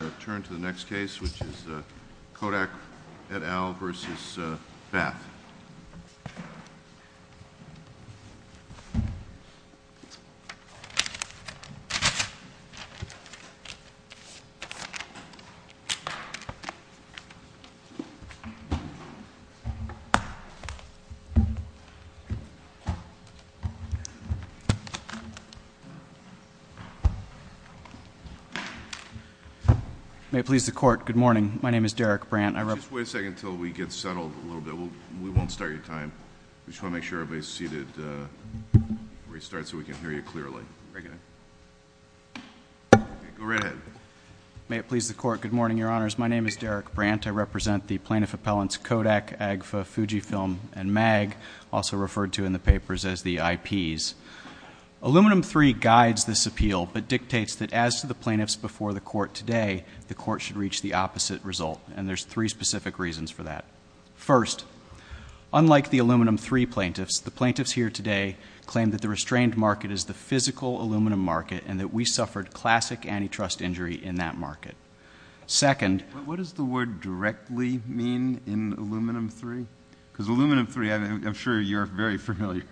Return to the next case which is the Kodak et al. versus BAP May it please the court, good morning. My name is Derek Brandt. Just wait a second until we get settled a little bit. We won't start your time. Just want to make sure everybody is seated before we start so we can hear you clearly. May it please the court, good morning, your honors. My name is Derek Brandt. I represent the plaintiff appellants Kodak, AGFA, Fujifilm, and MAG, also referred to in the papers as the IPs. Aluminum III guides this appeal but dictates that as to the plaintiffs before the court today, the court should reach the opposite result and there's three specific reasons for that. First, unlike the Aluminum III plaintiffs, the plaintiffs here today claim that the restrained market is the physical aluminum market and that we suffered classic antitrust injury in that market. But what does the word directly mean in Aluminum III? Because Aluminum III, I'm sure you're very familiar.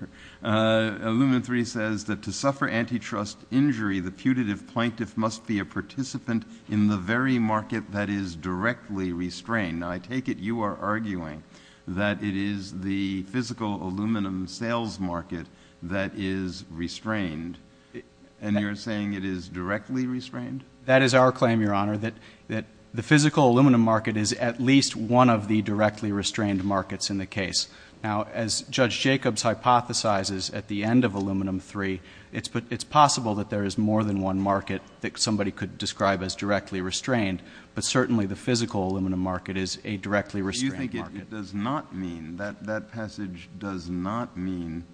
Aluminum III says that to suffer antitrust injury, the putative plaintiff must be a participant in the very market that is directly restrained. Now I take it you are arguing that it is the physical aluminum sales market that is restrained and you're saying it is directly restrained? That is our claim, Your Honor, that the physical aluminum market is at least one of the directly restrained markets in the case. Now, as Judge Jacobs hypothesizes at the end of Aluminum III, it's possible that there is more than one market that somebody could describe as directly restrained, but certainly the physical aluminum market is a directly restrained market. It does not mean, that passage does not mean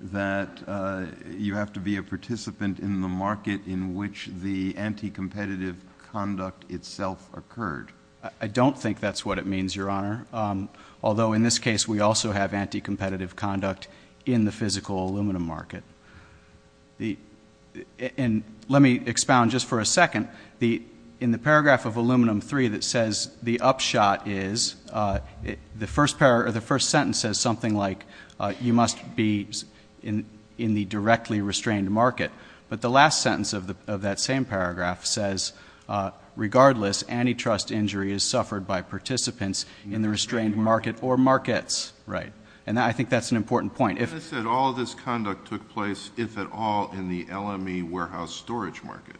that you have to be a participant in the market in which the anticompetitive conduct itself occurred. I don't think that's what it means, Your Honor, although in this case we also have anticompetitive conduct in the physical aluminum market. And let me expound just for a second. In the paragraph of Aluminum III that says the upshot is, the first sentence says something like, you must be in the directly restrained market, but the last sentence of that same paragraph says, regardless, antitrust injury is suffered by participants in the restrained market or markets. And I think that's an important point. All this conduct took place, if at all, in the LME warehouse storage market,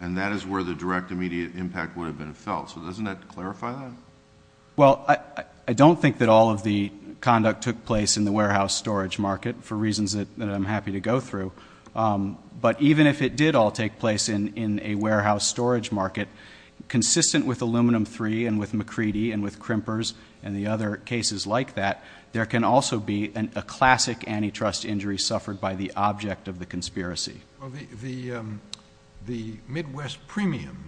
and that is where the direct immediate impact would have been felt. So doesn't that clarify that? Well, I don't think that all of the conduct took place in the warehouse storage market, for reasons that I'm happy to go through, but even if it did all take place in a warehouse storage market, consistent with Aluminum III and with McCready and with Krimper's and the other cases like that, there can also be a classic antitrust injury suffered by the object of the conspiracy. The Midwest premium,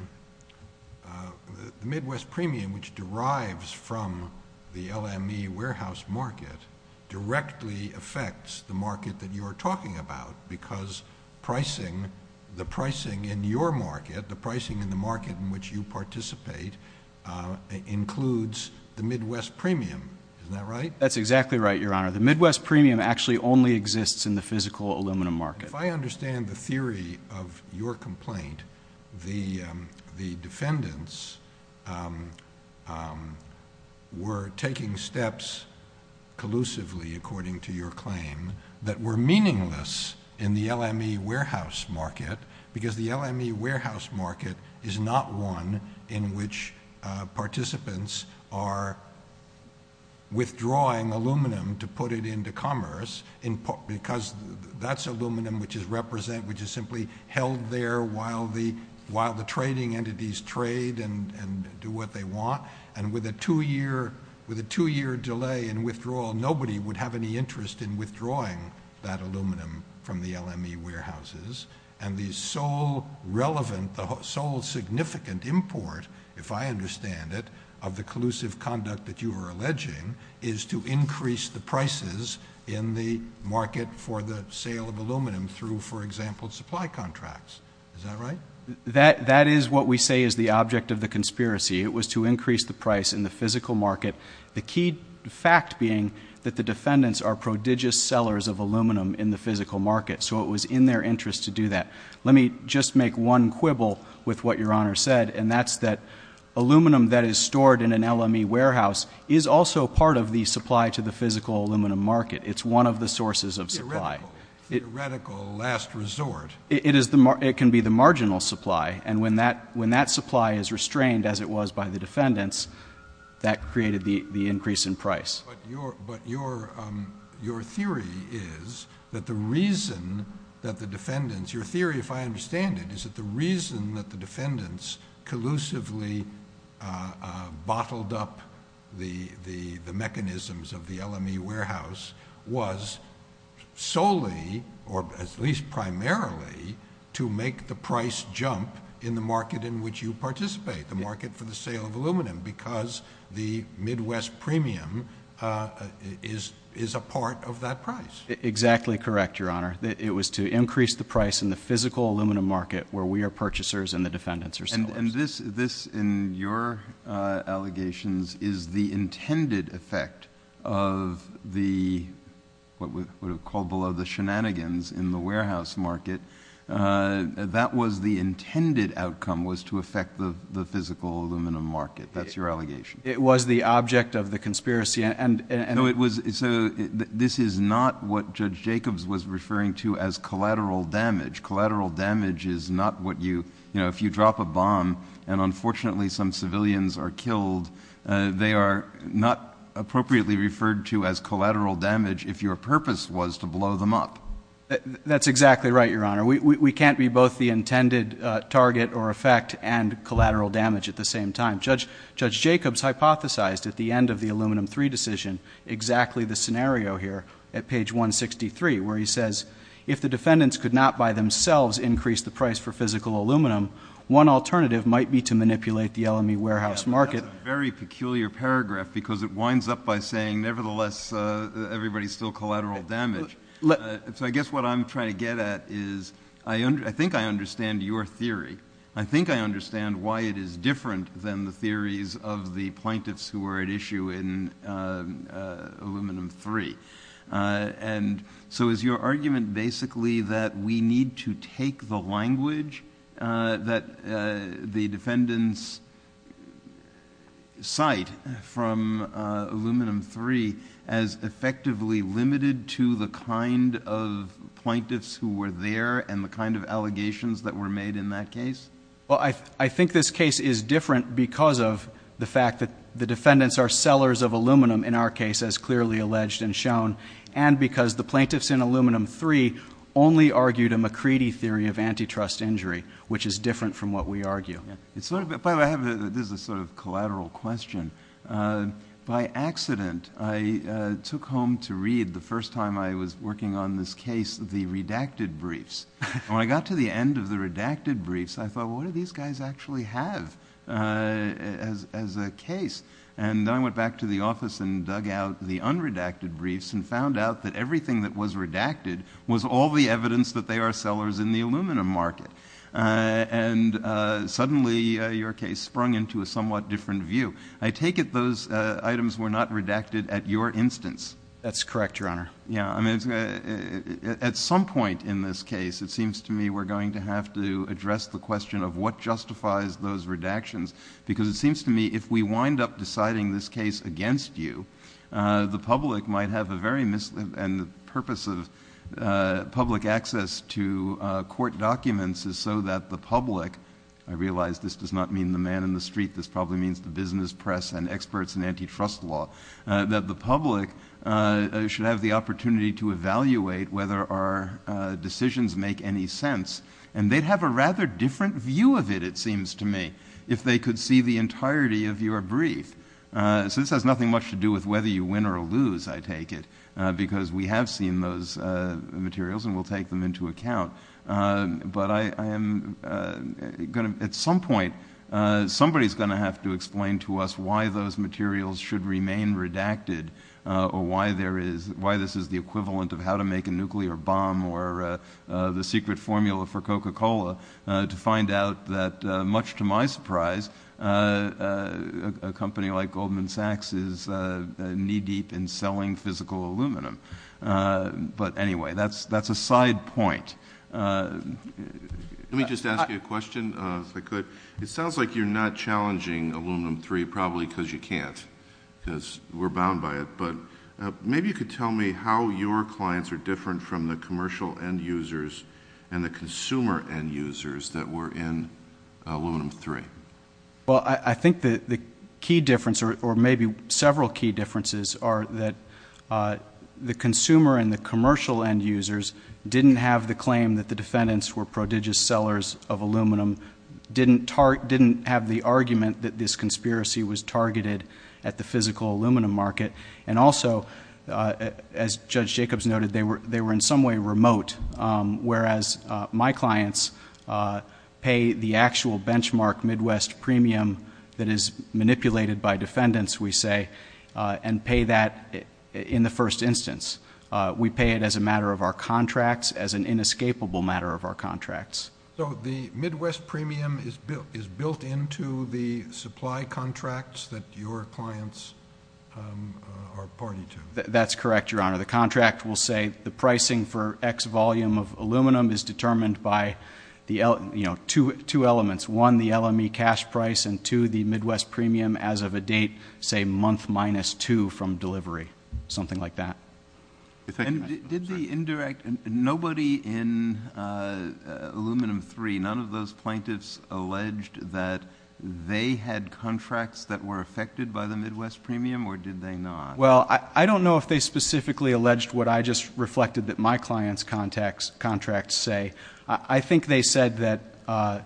which derives from the LME warehouse market, directly affects the market that you are talking about because the pricing in your market, the pricing in the market in which you participate includes the Midwest premium. Isn't that right? That's exactly right, Your Honor. The Midwest premium actually only exists in the physical aluminum market. If I understand the theory of your complaint, the defendants were taking steps collusively, according to your claim, that were meaningless in the LME warehouse market because the LME warehouse market is not one in which participants are withdrawing aluminum to put it into commerce because that's aluminum which is simply held there while the trading entities trade and do what they want, and with a two-year delay in withdrawal, nobody would have any interest in withdrawing that aluminum from the LME warehouses and the sole significant import, if I understand it, of the collusive conduct that you are alleging is to increase the prices in the market for the sale of aluminum through, for example, supply contracts. Is that right? That is what we say is the object of the conspiracy. It was to increase the price in the physical market, the key fact being that the defendants are prodigious sellers of aluminum in the physical market, so it was in their interest to do that. Let me just make one quibble with what Your Honor said, and that's that aluminum that is stored in an LME warehouse is also part of the supply to the physical aluminum market. It's one of the sources of supply. Theoretical last resort. It can be the marginal supply, and when that supply is restrained, as it was by the defendants, that created the increase in price. But your theory is that the reason that the defendants— your theory, if I understand it, is that the reason that the defendants collusively bottled up the mechanisms of the LME warehouse was solely, or at least primarily, to make the price jump in the market in which you participate, the market for the sale of aluminum, because the Midwest premium is a part of that price. Exactly correct, Your Honor. It was to increase the price in the physical aluminum market where we are purchasers and the defendants are sellers. And this, in your allegations, is the intended effect of the— what we would have called below the shenanigans in the warehouse market. That was the intended outcome, was to affect the physical aluminum market. That's your allegation. It was the object of the conspiracy, and— No, it was—so this is not what Judge Jacobs was referring to as collateral damage. Collateral damage is not what you—you know, if you drop a bomb, and unfortunately some civilians are killed, they are not appropriately referred to as collateral damage if your purpose was to blow them up. That's exactly right, Your Honor. We can't be both the intended target or effect and collateral damage at the same time. Judge Jacobs hypothesized at the end of the Aluminum III decision exactly the scenario here at page 163 where he says, if the defendants could not by themselves increase the price for physical aluminum, one alternative might be to manipulate the LME warehouse market. That's a very peculiar paragraph because it winds up by saying, nevertheless, everybody's still collateral damage. So I guess what I'm trying to get at is, I think I understand your theory. I think I understand why it is different than the theories of the plaintiffs who were at issue in Aluminum III. And so is your argument basically that we need to take the language that the defendants cite from Aluminum III as effectively limited to the kind of plaintiffs who were there and the kind of allegations that were made in that case? Well, I think this case is different because of the fact that the defendants are sellers of aluminum, in our case, as clearly alleged and shown, and because the plaintiffs in Aluminum III only argued a McCready theory of antitrust injury, which is different from what we argue. This is a sort of collateral question. By accident, I took home to read, the first time I was working on this case, the redacted briefs. When I got to the end of the redacted briefs, I thought, what do these guys actually have as a case? And I went back to the office and dug out the unredacted briefs and found out that everything that was redacted was all the evidence that they are sellers in the aluminum market. And suddenly, your case sprung into a somewhat different view. I take it those items were not redacted at your instance. That's correct, Your Honor. At some point in this case, it seems to me we're going to have to address the question of what justifies those redactions, because it seems to me if we wind up deciding this case against you, the public might have a very misled, and the purpose of public access to court documents is so that the public, I realize this does not mean the man in the street, this probably means the business, press, and experts in antitrust law, that the public should have the opportunity to evaluate whether our decisions make any sense. And they'd have a rather different view of it, it seems to me, if they could see the entirety of your brief. This has nothing much to do with whether you win or lose, I take it, because we have seen those materials and we'll take them into account. But at some point, somebody's going to have to explain to us why those materials should remain redacted or why this is the equivalent of how to make a nuclear bomb or the secret formula for Coca-Cola, to find out that, much to my surprise, a company like Goldman Sachs is knee-deep in selling physical aluminum. But anyway, that's a side point. Let me just ask you a question, if I could. It sounds like you're not challenging Aluminum 3, probably because you can't, because we're bound by it. But maybe you could tell me how your clients are different from the commercial end users and the consumer end users that were in Aluminum 3. Well, I think the key difference, or maybe several key differences, are that the consumer and the commercial end users didn't have the claim that the defendants were prodigious sellers of aluminum, didn't have the argument that this conspiracy was targeted at the physical aluminum market, and also, as Judge Jacobs noted, they were in some way remote, whereas my clients pay the actual benchmark Midwest premium that is manipulated by defendants, we say, and pay that in the first instance. We pay it as a matter of our contracts, as an inescapable matter of our contracts. So the Midwest premium is built into the supply contracts that your clients are party to? That's correct, Your Honor. The contract will say the pricing for X volume of aluminum is determined by two elements, one, the LME cash price, and two, the Midwest premium as of a date, say, month minus two from delivery, something like that. Did the indirect, nobody in Aluminum 3, none of those plaintiffs alleged that they had contracts that were affected by the Midwest premium, or did they not? Well, I don't know if they specifically alleged what I just reflected that my client's contracts say. I think they said that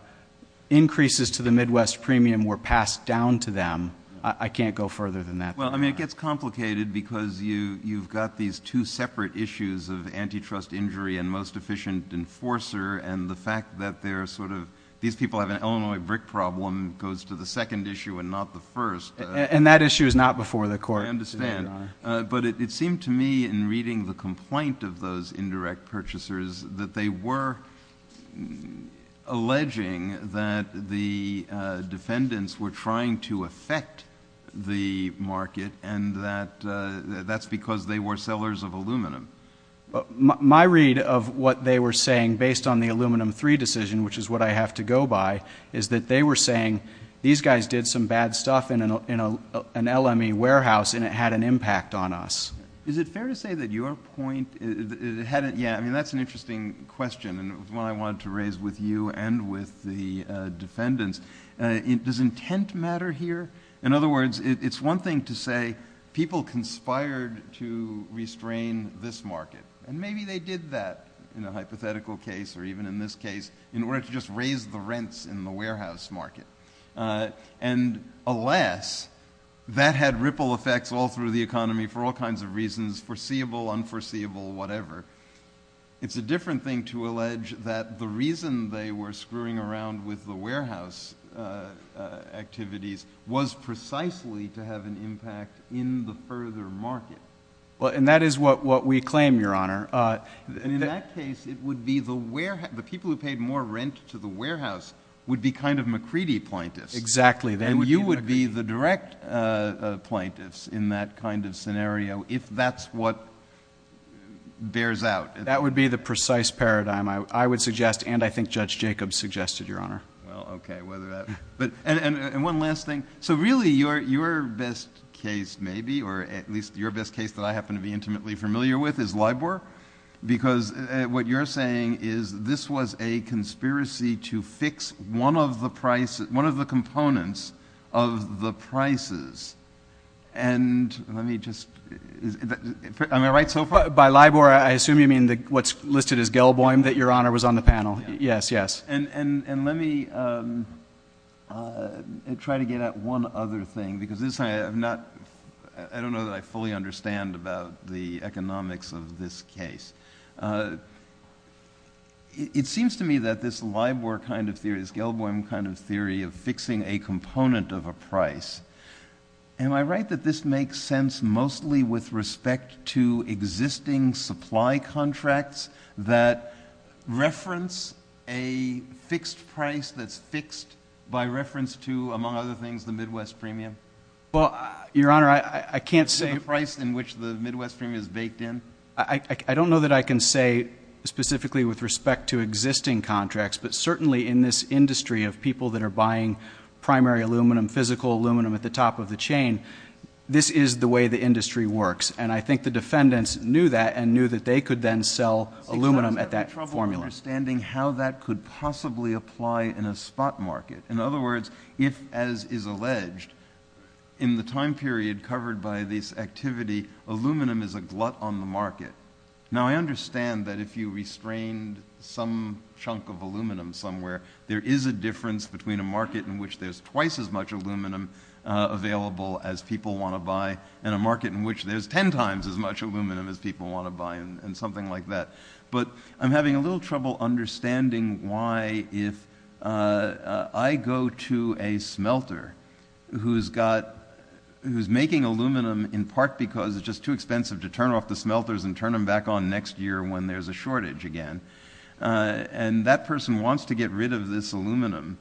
increases to the Midwest premium were passed down to them. I can't go further than that. Well, I mean, it gets complicated because you've got these two separate issues of antitrust injury and most efficient enforcer, and the fact that they're sort of, these people have an Illinois brick problem goes to the second issue and not the first. And that issue is not before the court. I understand. But it seemed to me, in reading the complaint of those indirect purchasers, that they were alleging that the defendants were trying to affect the market, and that that's because they were sellers of aluminum. My read of what they were saying, based on the Aluminum 3 decision, which is what I have to go by, is that they were saying these guys did some bad stuff in an LME warehouse, and it had an impact on us. Is it fair to say that your point, yeah, I mean, that's an interesting question, and it's one I wanted to raise with you and with the defendants. Does intent matter here? In other words, it's one thing to say people conspired to restrain this market, and maybe they did that in a hypothetical case, or even in this case, in order to just raise the rents in the warehouse market. And alas, that had ripple effects all through the economy for all kinds of reasons, foreseeable, unforeseeable, whatever. It's a different thing to allege that the reason they were screwing around with the warehouse activities was precisely to have an impact in the further market. Well, and that is what we claim, Your Honor. In that case, it would be the people who paid more rent to the warehouse would be kind of McCready appointees. Exactly. And you would be the direct appointees in that kind of scenario, if that's what bears out. That would be the precise paradigm, I would suggest, and I think Judge Jacobs suggested, Your Honor. And one last thing. So really, your best case maybe, or at least your best case that I happen to be intimately familiar with, is LIBOR, because what you're saying is this was a conspiracy to fix one of the components of the prices. And let me just – am I right so far? By LIBOR, I assume you mean what's listed as Gell-Bohm that Your Honor was on the panel. Yes, yes. And let me try to get at one other thing, because I don't know that I fully understand about the economics of this case. It seems to me that this LIBOR kind of theory, this Gell-Bohm kind of theory of fixing a component of a price, am I right that this makes sense mostly with respect to existing supply contracts that reference a fixed price that's fixed by reference to, among other things, the Midwest premium? Well, Your Honor, I can't say – The price in which the Midwest premium is baked in? I don't know that I can say specifically with respect to existing contracts, but certainly in this industry of people that are buying primary aluminum, physical aluminum at the top of the chain, this is the way the industry works. And I think the defendants knew that and knew that they could then sell aluminum at that formula. I'm having trouble understanding how that could possibly apply in a spot market. In other words, if, as is alleged, in the time period covered by this activity, aluminum is a glut on the market. Now, I understand that if you restrained some chunk of aluminum somewhere, there is a difference between a market in which there's twice as much aluminum available as people want to buy and a market in which there's ten times as much aluminum as people want to buy and something like that. But I'm having a little trouble understanding why if I go to a smelter who's making aluminum in part because it's just too expensive to turn off the smelters and turn them back on next year when there's a shortage again. And that person wants to get rid of this aluminum.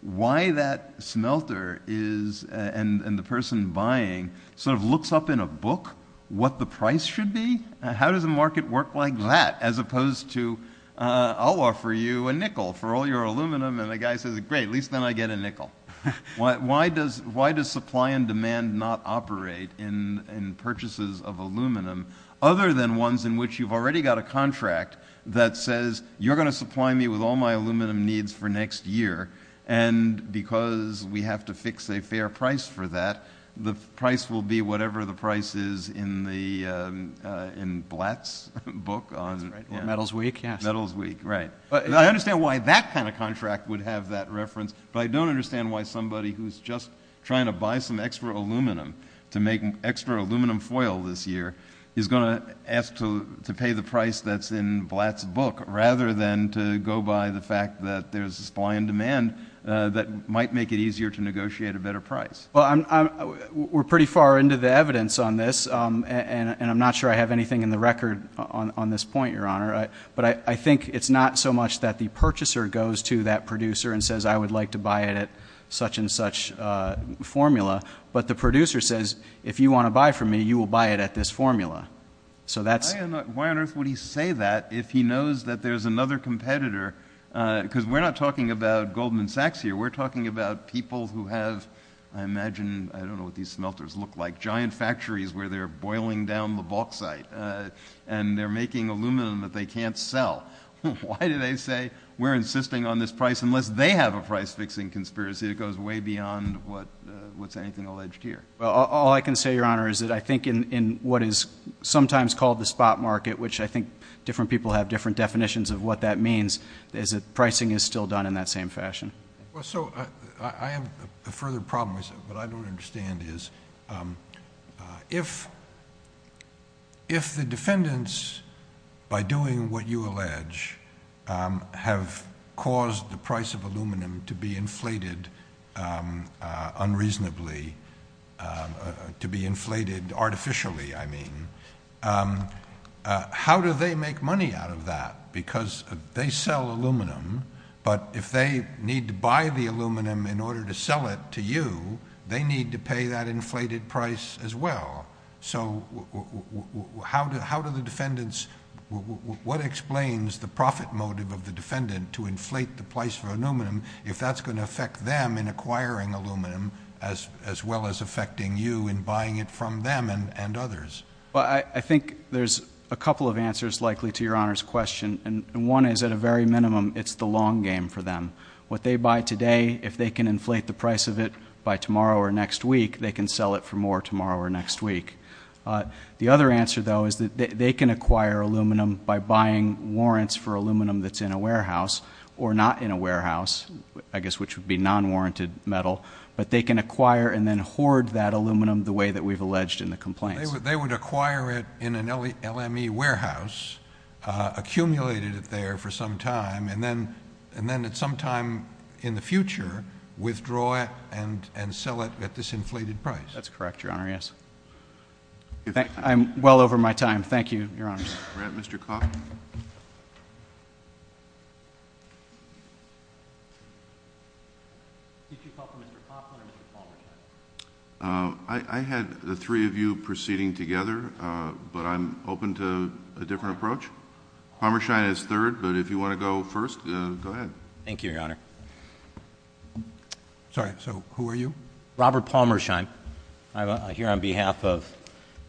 Why that smelter is, and the person buying, sort of looks up in a book what the price should be? How does a market work like that as opposed to, I'll offer you a nickel for all your aluminum. And the guy says, great, at least then I get a nickel. Why does supply and demand not operate in purchases of aluminum other than ones in which you've already got a contract that says you're going to supply me with all my aluminum needs for next year. And because we have to fix a fair price for that, the price will be whatever the price is in Blatt's book. Metal's Week, yeah. Metal's Week, right. I understand why that kind of contract would have that reference, but I don't understand why somebody who's just trying to buy some extra aluminum to make extra aluminum foil this year is going to ask to pay the price that's in Blatt's book rather than to go by the fact that there's supply and demand that might make it easier to negotiate a better price. Well, we're pretty far into the evidence on this, and I'm not sure I have anything in the record on this point, Your Honor. But I think it's not so much that the purchaser goes to that producer and says, I would like to buy it at such and such formula, but the producer says, if you want to buy from me, you will buy it at this formula. Why on earth would he say that if he knows that there's another competitor? Because we're not talking about Goldman Sachs here. We're talking about people who have, I imagine, I don't know what these smelters look like, giant factories where they're boiling down the bauxite and they're making aluminum that they can't sell. Why do they say we're insisting on this price unless they have a price-fixing conspiracy that goes way beyond what's anything alleged here? Well, all I can say, Your Honor, is that I think in what is sometimes called the spot market, which I think different people have different definitions of what that means, is that pricing is still done in that same fashion. So I have a further problem, but what I don't understand is if the defendants, by doing what you allege, have caused the price of aluminum to be inflated unreasonably, to be inflated artificially, I mean, how do they make money out of that? Because they sell aluminum, but if they need to buy the aluminum in order to sell it to you, they need to pay that inflated price as well. So how do the defendants, what explains the profit motive of the defendant to inflate the price of aluminum if that's going to affect them in acquiring aluminum as well as affecting you in buying it from them and others? Well, I think there's a couple of answers likely to Your Honor's question, and one is at a very minimum it's the long game for them. What they buy today, if they can inflate the price of it by tomorrow or next week, they can sell it for more tomorrow or next week. The other answer, though, is that they can acquire aluminum by buying warrants for aluminum that's in a warehouse or not in a warehouse, I guess which would be non-warranted metal, but they can acquire and then hoard that aluminum the way that we've alleged in the complaint. They would acquire it in an LME warehouse, accumulate it there for some time, and then at some time in the future withdraw it and sell it at this inflated price. That's correct, Your Honor, yes. I'm well over my time. Thank you, Your Honor. We have Mr. Cox. I had the three of you proceeding together, but I'm open to a different approach. Palmerschein is third, but if you want to go first, go ahead. Thank you, Your Honor. Sorry, so who are you? Robert Palmerschein. I'm here on behalf of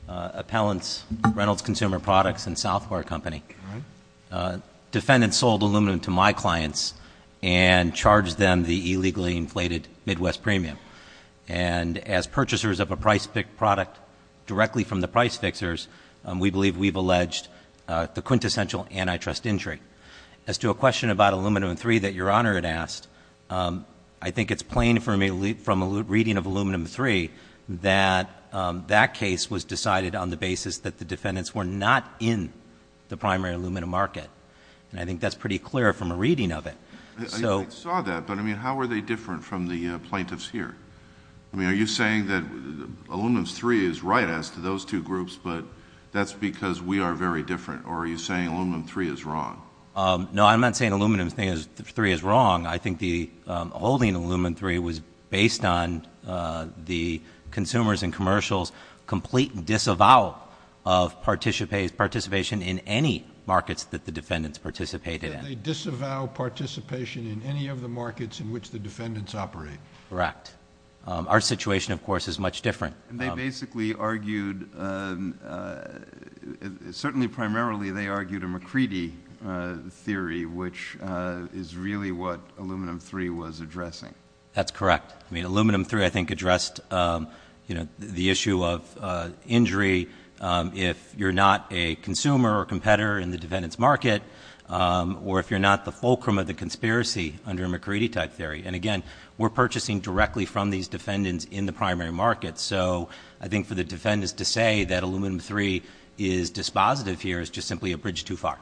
Appellant's Reynolds Consumer Products and Software Company. Defendants sold aluminum to my clients and charged them the illegally inflated Midwest premium. And as purchasers of a price-picked product directly from the price fixers, we believe we've alleged the quintessential antitrust injury. As to a question about aluminum-3 that Your Honor had asked, I think it's plain from a reading of aluminum-3 that that case was decided on the basis that the defendants were not in the primary aluminum market. And I think that's pretty clear from a reading of it. I saw that, but, I mean, how are they different from the plaintiffs here? I mean, are you saying that aluminum-3 is right as to those two groups, but that's because we are very different, or are you saying aluminum-3 is wrong? No, I'm not saying aluminum-3 is wrong. I think the holding of aluminum-3 was based on the consumers and commercials' complete disavowal of participation in any markets that the defendants participated in. They disavowed participation in any of the markets in which the defendants operated. Our situation, of course, is much different. They basically argued, certainly primarily they argued a McCready theory, which is really what aluminum-3 was addressing. That's correct. I mean, aluminum-3, I think, addressed the issue of injury if you're not a consumer or competitor in the defendant's market, or if you're not the fulcrum of the conspiracy under a McCready-type theory. And, again, we're purchasing directly from these defendants in the primary market. So I think for the defendants to say that aluminum-3 is dispositive here is just simply a bridge too far.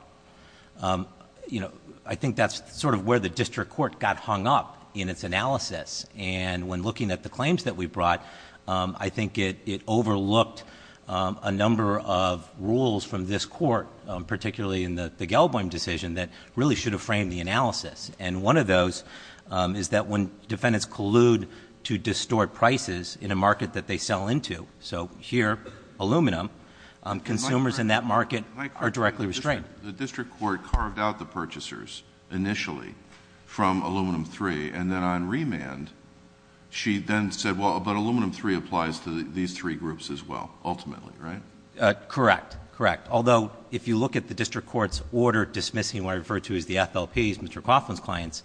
You know, I think that's sort of where the district court got hung up in its analysis. And when looking at the claims that we brought, I think it overlooked a number of rules from this court, particularly in the Gelboim decision, that really should have framed the analysis. And one of those is that when defendants collude to distort prices in a market that they sell into, so here, aluminum, consumers in that market are directly restrained. The district court carved out the purchasers initially from aluminum-3, and then on remand she then said, well, but aluminum-3 applies to these three groups as well, ultimately, right? Correct. Correct. Although, if you look at the district court's order dismissing what are referred to as the FLPs, Mr. Coughlin's claims,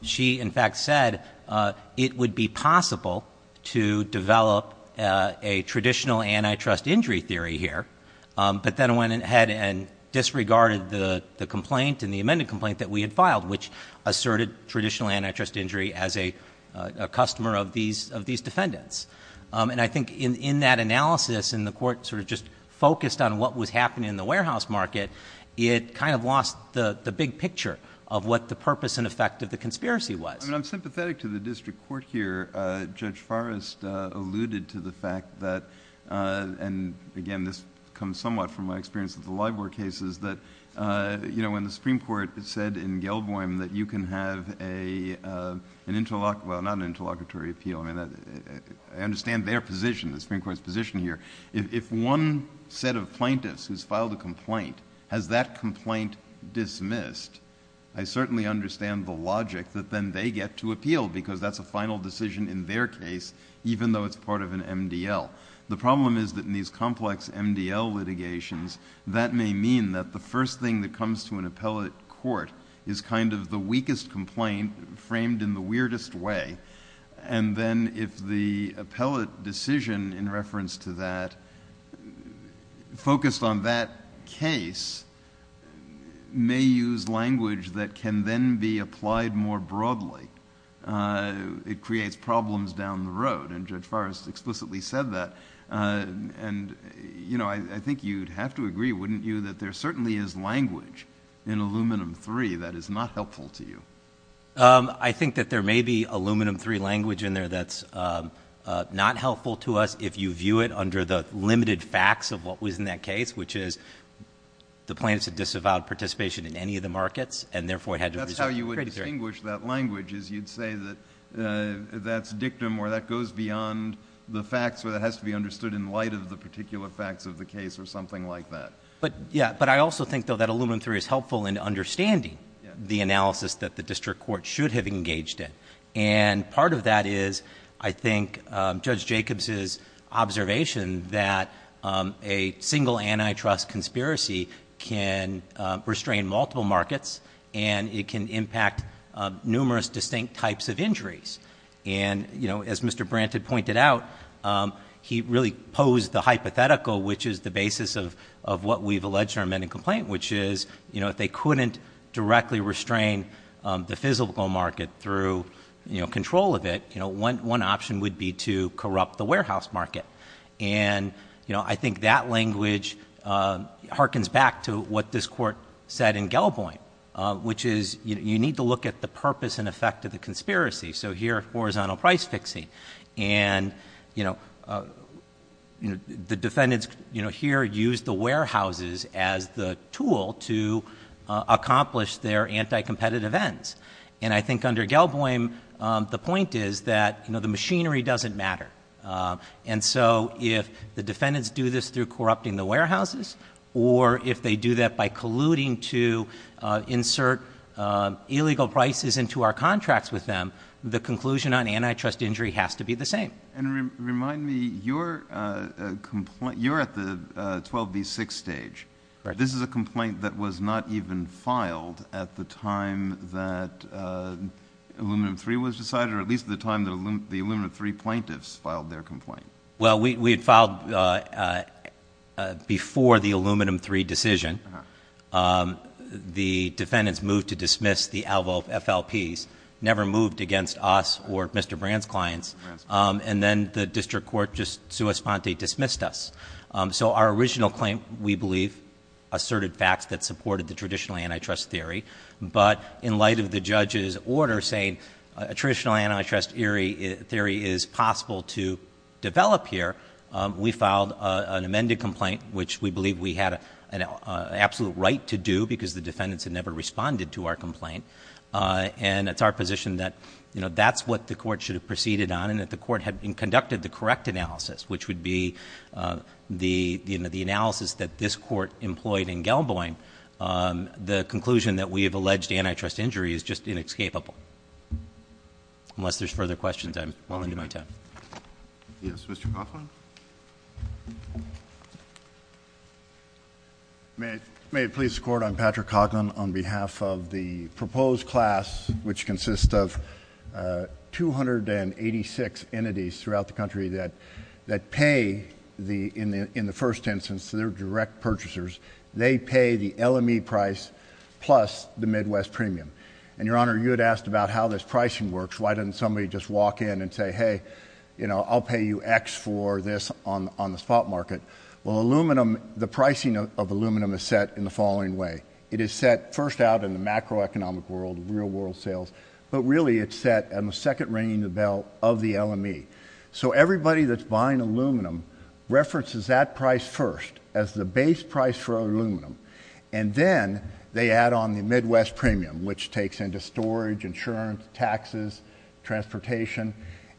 she, in fact, said it would be possible to develop a traditional antitrust injury theory here, but then went ahead and disregarded the complaint and the amended complaint that we had filed, which asserted traditional antitrust injury as a customer of these defendants. And I think in that analysis, and the court sort of just focused on what would happen in the warehouse market, it kind of lost the big picture of what the purpose and effect of the conspiracy was. I mean, I'm sympathetic to the district court here. Judge Forrest alluded to the fact that, and again, this comes somewhat from my experience with the LIBOR cases, that when the Supreme Court said in Gelboim that you can have an interlock, well, not an interlockatory appeal, I mean, I understand their position, the Supreme Court's position here. If one set of plaintiffs has filed a complaint, has that complaint dismissed, I certainly understand the logic that then they get to appeal because that's a final decision in their case, even though it's part of an MDL. The problem is that in these complex MDL litigations, that may mean that the first thing that comes to an appellate court is kind of the weakest complaint framed in the weirdest way, and then if the appellate decision in reference to that, focused on that case, may use language that can then be applied more broadly, it creates problems down the road, and Judge Forrest explicitly said that, and, you know, I think you'd have to agree, wouldn't you, that there certainly is language in Aluminum III that is not helpful to you? I think that there may be Aluminum III language in there that's not helpful to us if you view it under the limited facts of what was in that case, which is the plaintiffs have disavowed participation in any of the markets and, therefore, had to resign. That's how you would distinguish that language is you'd say that that's dictum or that goes beyond the facts or that has to be understood in light of the particular facts of the case or something like that. But, yeah, but I also think, though, that Aluminum III is helpful in understanding the analysis that the district court should have engaged in, and part of that is, I think, Judge Jacobs' observation that a single antitrust conspiracy can restrain multiple markets and it can impact numerous distinct types of injuries, and, you know, as Mr. Brant had pointed out, he really posed the hypothetical, which is the basis of what we've alleged in our amending complaint, which is, you know, if they couldn't directly restrain the physical market through, you know, control of it, you know, one option would be to corrupt the warehouse market. And, you know, I think that language harkens back to what this court said in Gell-Boynt, which is you need to look at the purpose and effect of the conspiracy. So here, horizontal price fixing, and, you know, the defendants, you know, here use the warehouses as the tool to accomplish their anti-competitive ends. And I think under Gell-Boynt, the point is that, you know, the machinery doesn't matter. And so if the defendants do this through corrupting the warehouses or if they do that by colluding to insert illegal prices into our contracts with them, the conclusion on antitrust injury has to be the same. And remind me, you're at the 12B6 stage. This is a complaint that was not even filed at the time that Aluminum III was decided, or at least the time the Aluminum III plaintiffs filed their complaint. Well, we had filed before the Aluminum III decision. The defendants moved to dismiss the Alvo FLPs, never moved against us or Mr. Brand's clients. And then the district court just sua sponte dismissed us. So our original claim, we believe, asserted facts that supported the traditional antitrust theory. But in light of the judge's order saying a traditional antitrust theory is possible to develop here, we filed an amended complaint, which we believe we had an absolute right to do because the defendants had never responded to our complaint. And it's our position that, you know, that's what the court should have proceeded on and that the court had conducted the correct analysis, which would be the analysis that this court employed in Gell-Boynt. The conclusion that we have alleged antitrust injury is just inescapable. Unless there's further questions, I'm willing to move to him. Yes, Mr. Coughlin. May it please the Court, I'm Patrick Coughlin on behalf of the proposed class, which consists of 286 entities throughout the country that pay, in the first instance, their direct purchasers. They pay the LME price plus the Midwest premium. And, Your Honor, you had asked about how this pricing works. Why doesn't somebody just walk in and say, hey, you know, I'll pay you X for this on the spot market? Well, aluminum, the pricing of aluminum is set in the following way. It is set first out in the macroeconomic world, real world sales, but really it's set in the second ringing of the bell of the LME. So everybody that's buying aluminum references that price first as the base price for aluminum, and then they add on the Midwest premium, which takes into storage, insurance, taxes, transportation,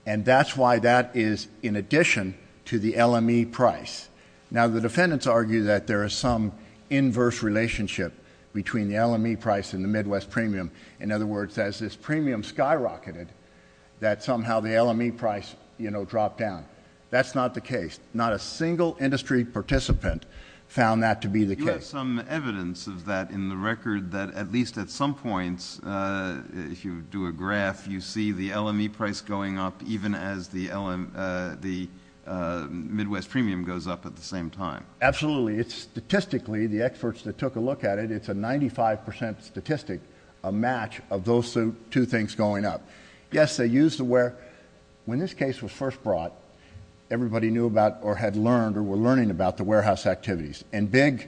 and that's why that is in addition to the LME price. Now, the defendants argue that there is some inverse relationship between the LME price and the Midwest premium. In other words, as this premium skyrocketed, that somehow the LME price, you know, dropped down. That's not the case. Not a single industry participant found that to be the case. You have some evidence of that in the record that at least at some points, if you do a graph, you see the LME price going up even as the Midwest premium goes up at the same time. Absolutely. Statistically, the experts that took a look at it, it's a 95% statistic, a match of those two things going up. Yes, they used the warehouse. When this case was first brought, everybody knew about or had learned or were learning about the warehouse activities, and big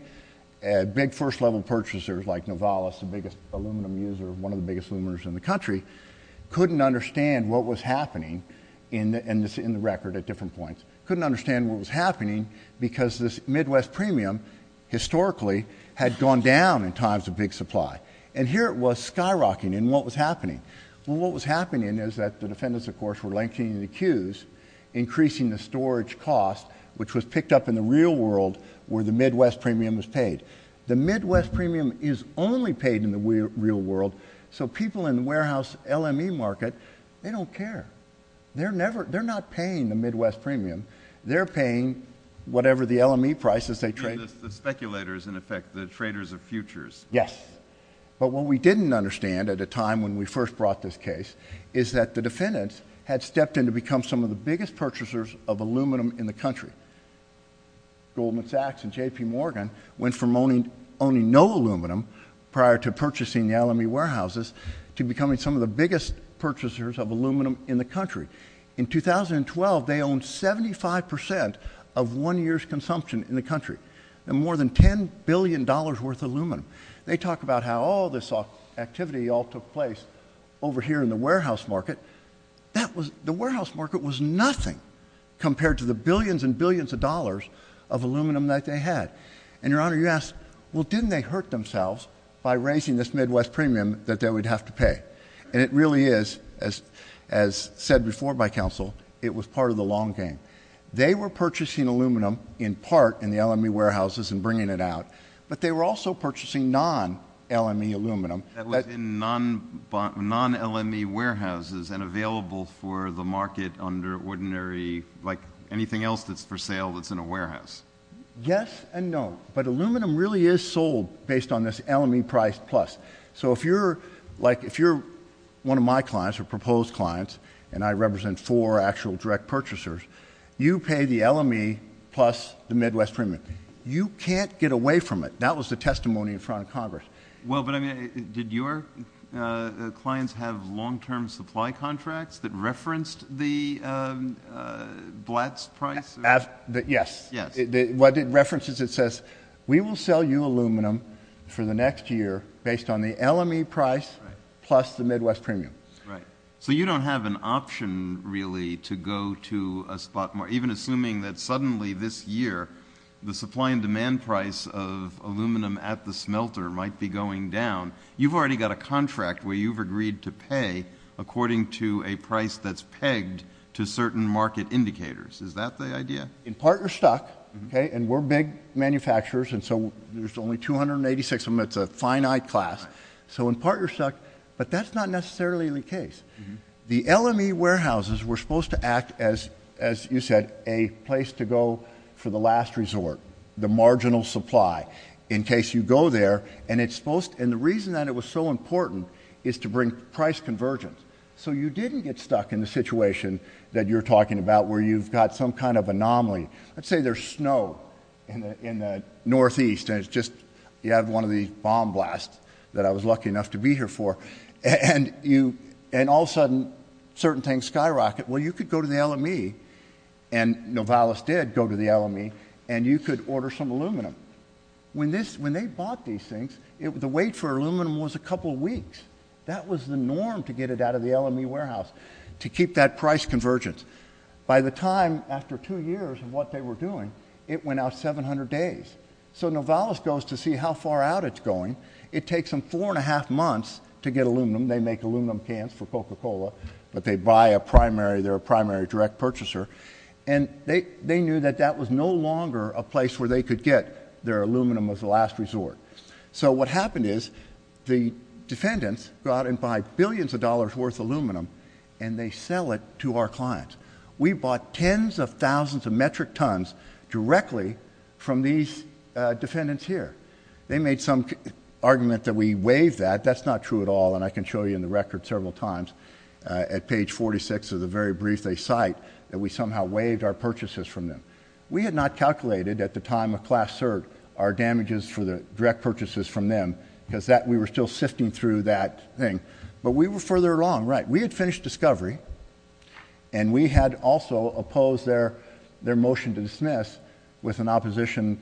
first-level purchasers like Novalis, the biggest aluminum user, one of the biggest luminaries in the country, couldn't understand what was happening in the record at different points. Couldn't understand what was happening because this Midwest premium, historically, had gone down in times of big supply. And here it was, skyrocketing, and what was happening? Well, what was happening is that the defendants, of course, were lengthening the queues, increasing the storage cost, which was picked up in the real world where the Midwest premium was paid. The Midwest premium is only paid in the real world, so people in the warehouse LME market, they don't care. They're not paying the Midwest premium. They're paying whatever the LME prices they trade. The speculators, in effect, the traders of futures. Yes. But what we didn't understand at the time when we first brought this case is that the defendants had stepped in to become some of the biggest purchasers of aluminum in the country. Goldman Sachs and J.P. Morgan went from owning no aluminum prior to purchasing the LME warehouses to becoming some of the biggest purchasers of aluminum in the country. In 2012, they owned 75% of one year's consumption in the country, and more than $10 billion worth of aluminum. They talk about how all this activity all took place over here in the warehouse market. The warehouse market was nothing compared to the billions and billions of dollars of aluminum that they had. And, Your Honor, you ask, well, didn't they hurt themselves by raising this Midwest premium that they would have to pay? And it really is, as said before by counsel, it was part of the long game. They were purchasing aluminum in part in the LME warehouses and bringing it out, but they were also purchasing non-LME aluminum. That was in non-LME warehouses and available for the market under ordinary, like anything else that's for sale that's in a warehouse. Yes and no, but aluminum really is sold based on this LME price plus. So if you're, like, if you're one of my clients or proposed clients, and I represent four actual direct purchasers, you pay the LME plus the Midwest premium. You can't get away from it. That was the testimony in front of Congress. Well, but I mean, did your clients have long-term supply contracts that referenced the Blatt's price? Yes. What it references, it says, we will sell you aluminum for the next year based on the LME price plus the Midwest premium. Right. So you don't have an option, really, to go to a spot, even assuming that suddenly this year the supply and demand price of aluminum at the smelter might be going down. You've already got a contract where you've agreed to pay according to a price that's pegged to certain market indicators. Is that the idea? In part, you're stuck, okay, and we're big manufacturers, and so there's only 286 of them. It's a finite class. So in part, you're stuck, but that's not necessarily the case. The LME warehouses were supposed to act as, as you said, a place to go for the last resort, the marginal supply, in case you go there. And it's supposed, and the reason that it was so important is to bring price convergence. So you didn't get stuck in the situation that you're talking about where you've got some kind of anomaly. Let's say there's snow in the northeast, and it's just, you have one of the bomb blasts that I was lucky enough to be here for, and you, and all of a sudden, certain things skyrocket. Well, you could go to the LME, and Novalis did go to the LME, and you could order some aluminum. When they bought these things, the wait for aluminum was a couple weeks. That was the norm to get it out of the LME warehouse, to keep that price convergence. By the time, after two years of what they were doing, it went out 700 days. So Novalis goes to see how far out it's going. It takes them four and a half months to get aluminum. They make aluminum cans for Coca-Cola, but they buy a primary, they're a primary direct purchaser, and they knew that that was no longer a place where they could get their aluminum as a last resort. So what happened is the defendants go out and buy billions of dollars worth of aluminum, and they sell it to our clients. We bought tens of thousands of metric tons directly from these defendants here. They made some argument that we waived that. That's not true at all, and I can show you in the record several times. At page 46 of the very brief they cite, that we somehow waived our purchases from them. We had not calculated at the time of class cert our damages for the direct purchases from them, because we were still sifting through that thing. But we were further along, right. We had finished discovery, and we had also opposed their motion to dismiss with an opposition,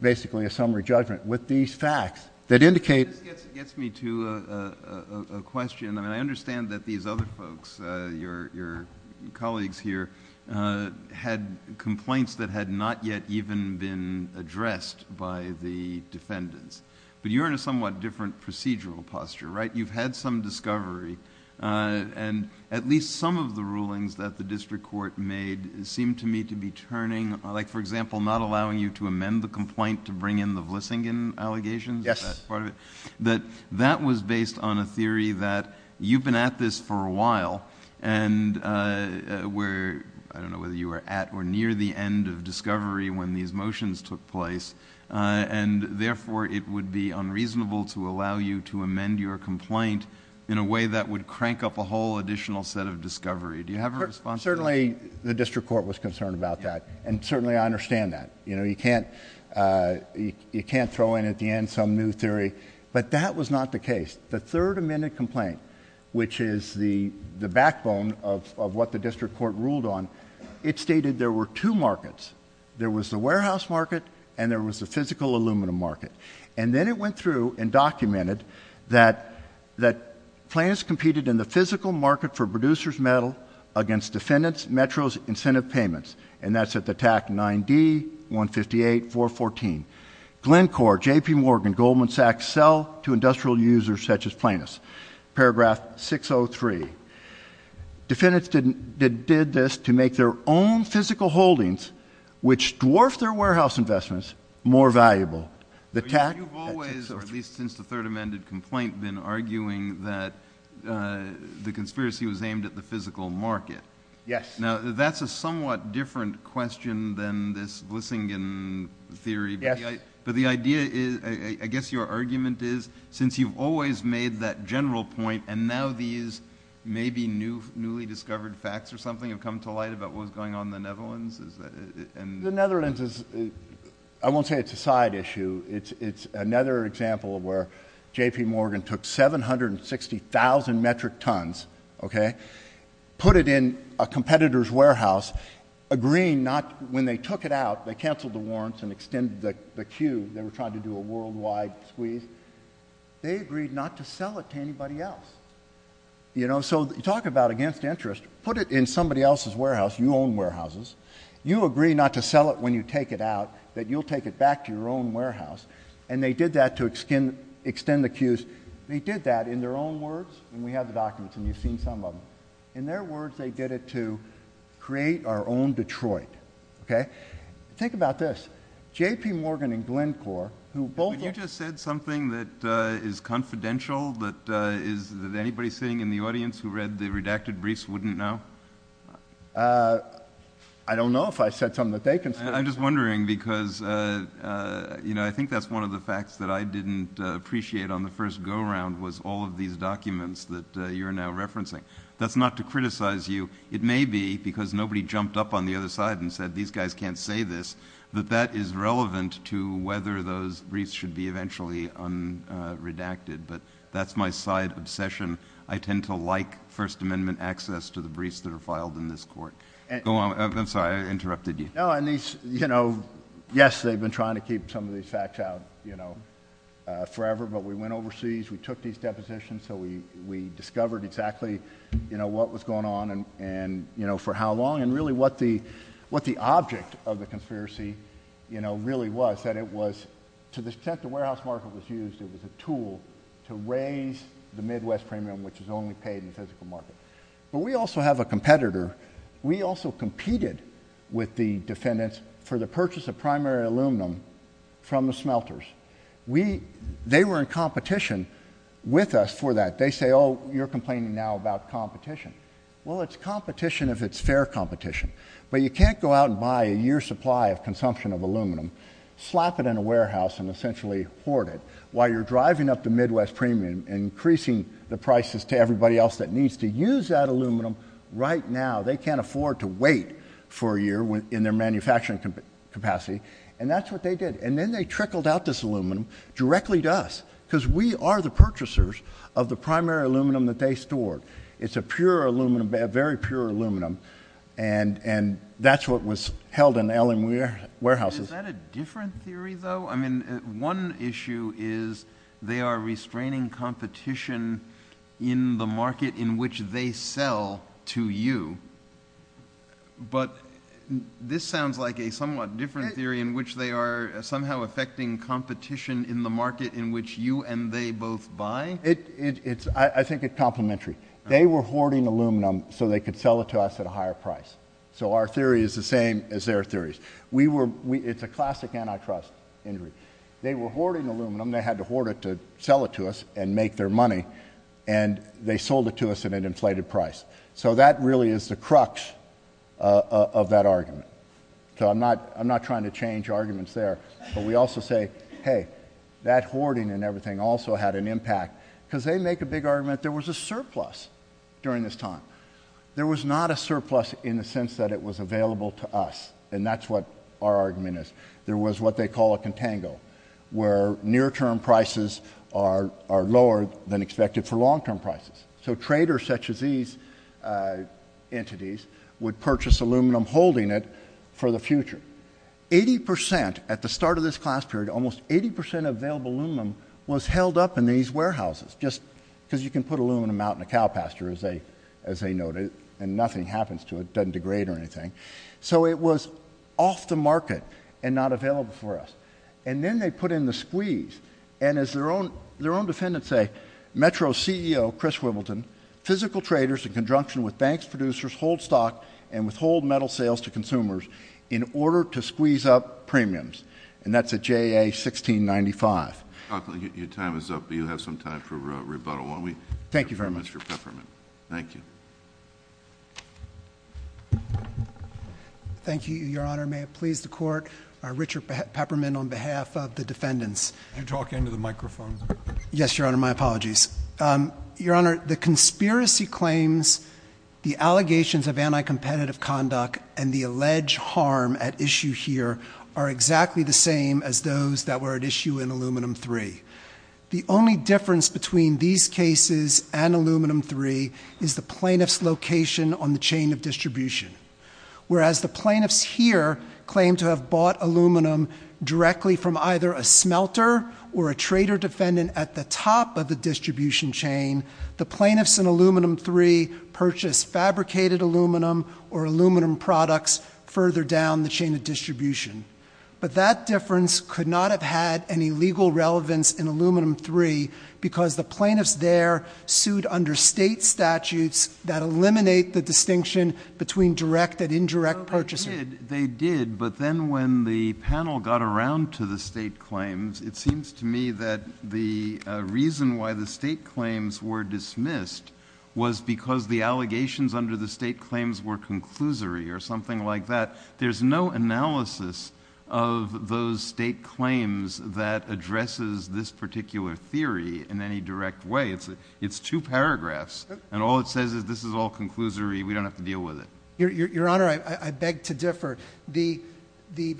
basically a summary judgment with these facts that indicate. It gets me to a question, and I understand that these other folks, your colleagues here, had complaints that had not yet even been addressed by the defendants. But you're in a somewhat different procedural posture, right. You've had some discovery, and at least some of the rulings that the district court made seemed to me to be turning, like for example, not allowing you to amend the complaint to bring in the Vlissingen allegations as part of it. That was based on a theory that you've been at this for a while, and I don't know whether you were at or near the end of discovery when these motions took place, and therefore it would be unreasonable to allow you to amend your complaint in a way that would crank up a whole additional set of discovery. Do you have a response to that? Certainly the district court was concerned about that, and certainly I understand that. You know, you can't throw in at the end some new theory. But that was not the case. The third amended complaint, which is the backbone of what the district court ruled on, it stated there were two markets. There was the warehouse market, and there was the physical aluminum market. And then it went through and documented that plans competed in the physical market for producers' metal against defendants' metros incentive payments, and that's at the TAC 9D-158-414. Glencore, J.P. Morgan, Goldman Sachs sell to industrial users such as plaintiffs. Paragraph 603. Defendants did this to make their own physical holdings, which dwarfed their warehouse investments, more valuable. You've always, or at least since the third amended complaint, been arguing that the conspiracy was aimed at the physical market. Yes. Now, that's a somewhat different question than this Glusingen theory. Yes. But the idea is, I guess your argument is, since you've always made that general point and now these maybe newly discovered facts or something have come to light about what was going on in the Netherlands. The Netherlands is, I won't say it's a side issue. It's another example of where J.P. Morgan took 760,000 metric tons, okay, put it in a competitor's warehouse, agreeing not, when they took it out, they canceled the warrants and extended the queue. They were trying to do a worldwide squeeze. They agreed not to sell it to anybody else. You know, so talk about against interest. Put it in somebody else's warehouse. You own warehouses. You agree not to sell it when you take it out, that you'll take it back to your own warehouse. And they did that to extend the queues. They did that in their own words. And we have the documents, and you've seen some of them. In their words, they did it to create our own Detroit. Okay? Think about this. J.P. Morgan and Glencore, who both of them. But you just said something that is confidential, that is, that anybody sitting in the audience who read the redacted briefs wouldn't know. I don't know if I said something that they can say. I'm just wondering because, you know, I think that's one of the facts that I didn't appreciate on the first go-round, was all of these documents that you're now referencing. That's not to criticize you. It may be because nobody jumped up on the other side and said, these guys can't say this, but that is relevant to whether those briefs should be eventually redacted. But that's my side obsession. I tend to like First Amendment access to the briefs that are filed in this court. I'm sorry, I interrupted you. Yes, they've been trying to keep some of these facts out forever, but we went overseas, we took these depositions, so we discovered exactly what was going on and for how long and really what the object of the conspiracy really was, that it was to the extent the warehouse market was used as a tool to raise the Midwest premium, which is only paid in the physical market. But we also have a competitor. We also competed with the defendants for the purchase of primary aluminum from the smelters. They were in competition with us for that. They say, oh, you're complaining now about competition. Well, it's competition if it's fair competition. But you can't go out and buy a year's supply of consumption of aluminum, slap it in a warehouse and essentially hoard it while you're driving up the Midwest premium and increasing the prices to everybody else that needs to use that aluminum right now. They can't afford to wait for a year in their manufacturing capacity, and that's what they did. And then they trickled out this aluminum directly to us because we are the purchasers of the primary aluminum that they store. It's a pure aluminum, very pure aluminum, and that's what was held in the aluminum warehouses. Is that a different theory, though? I mean, one issue is they are restraining competition in the market in which they sell to you. But this sounds like a somewhat different theory in which they are somehow affecting competition in the market in which you and they both buy. I think it's complementary. They were hoarding aluminum so they could sell it to us at a higher price. So our theory is the same as their theories. It's a classic antitrust injury. They were hoarding aluminum. They had to hoard it to sell it to us and make their money, and they sold it to us at an inflated price. So that really is the crux of that argument. So I'm not trying to change arguments there, but we also say, hey, that hoarding and everything also had an impact because they make a big argument that there was a surplus during this time. There was not a surplus in the sense that it was available to us, and that's what our argument is. There was what they call a contango, where near-term prices are lower than expected for long-term prices. So traders such as these entities would purchase aluminum holding it for the future. Eighty percent, at the start of this class period, almost 80 percent of available aluminum was held up in these warehouses just because you can put aluminum out in a cow pasture, as they noted, and nothing happens to it. It doesn't degrade or anything. So it was off the market and not available for us. And then they put in the squeeze, and as their own defendants say, Metro's CEO, Chris Wibbleton, physical traders in conjunction with banks, producers, hold stock, and withhold metal sales to consumers in order to squeeze up premiums, and that's a JA-1695. Your time is up, but you have some time for rebuttal. Thank you very much. Thank you. Thank you, Your Honor. May it please the Court. Richard Pepperman on behalf of the defendants. Can you talk into the microphone? Yes, Your Honor, my apologies. Your Honor, the conspiracy claims, the allegations of anti-competitive conduct, and the alleged harm at issue here are exactly the same as those that were at issue in Aluminum III. The only difference between these cases and Aluminum III is the plaintiff's application on the chain of distribution. Whereas the plaintiffs here claim to have bought aluminum directly from either a smelter or a trader defendant at the top of the distribution chain, the plaintiffs in Aluminum III purchased fabricated aluminum or aluminum products further down the chain of distribution. But that difference could not have had any legal relevance in Aluminum III because the plaintiffs there sued under state statutes that eliminate the distinction between direct and indirect purchasing. They did, but then when the panel got around to the state claims, it seems to me that the reason why the state claims were dismissed was because the allegations under the state claims were conclusory or something like that. There's no analysis of those state claims that addresses this particular theory in any direct way. It's two paragraphs, and all it says is this is all conclusory. We don't have to deal with it. Your Honor, I beg to differ. The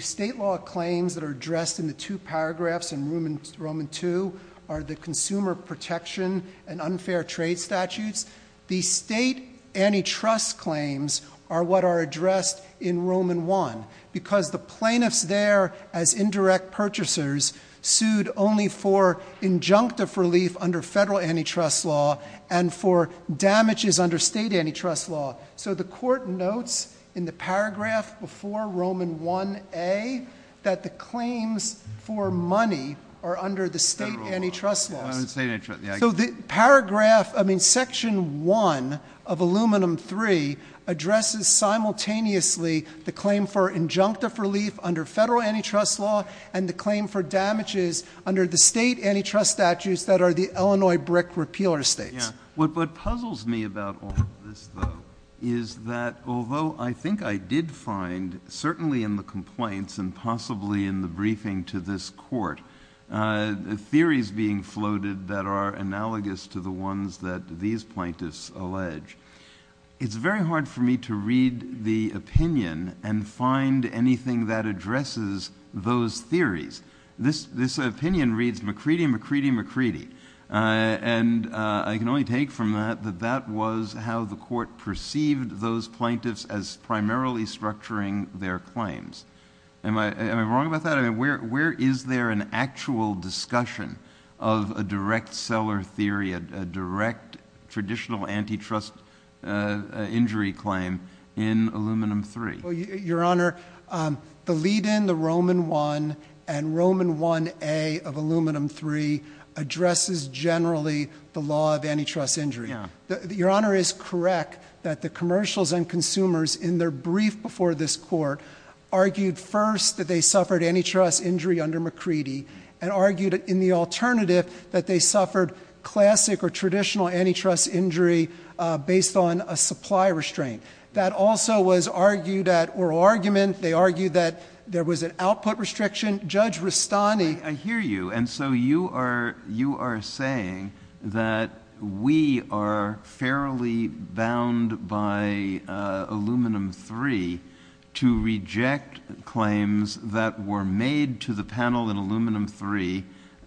state law claims that are addressed in the two paragraphs in Roman II are the consumer protection and unfair trade statutes. The state antitrust claims are what are addressed in Roman I because the plaintiffs there as indirect purchasers sued only for injunctive relief under federal antitrust law and for damages under state antitrust law. So the Court notes in the paragraph before Roman Ia that the claims for money are under the state antitrust law. So the paragraph, I mean Section I of Aluminum III addresses simultaneously the claim for injunctive relief under federal antitrust law and the claim for damages under the state antitrust statutes that are the Illinois brick repealer states. What puzzles me about all of this, though, is that although I think I did find certainly in the complaints and possibly in the briefing to this Court theories being floated that are analogous to the ones that these plaintiffs allege, it's very hard for me to read the opinion and find anything that addresses those theories. This opinion reads Macready, Macready, Macready. And I can only take from that that that was how the Court perceived those plaintiffs as primarily structuring their claims. Am I wrong about that? Where is there an actual discussion of a direct seller theory, a direct traditional antitrust injury claim in Aluminum III? Your Honor, the lead-in, the Roman I and Roman Ia of Aluminum III addresses generally the law of antitrust injury. Your Honor is correct that the commercials and consumers in their brief before this Court argued first that they suffered antitrust injury under Macready and argued in the alternative that they suffered classic or traditional antitrust injury based on a supply restraint. That also was argued at oral argument. They argued that there was an output restriction. Judge Rustani. I hear you. And so you are saying that we are fairly bound by Aluminum III to reject claims that were made to the panel in Aluminum III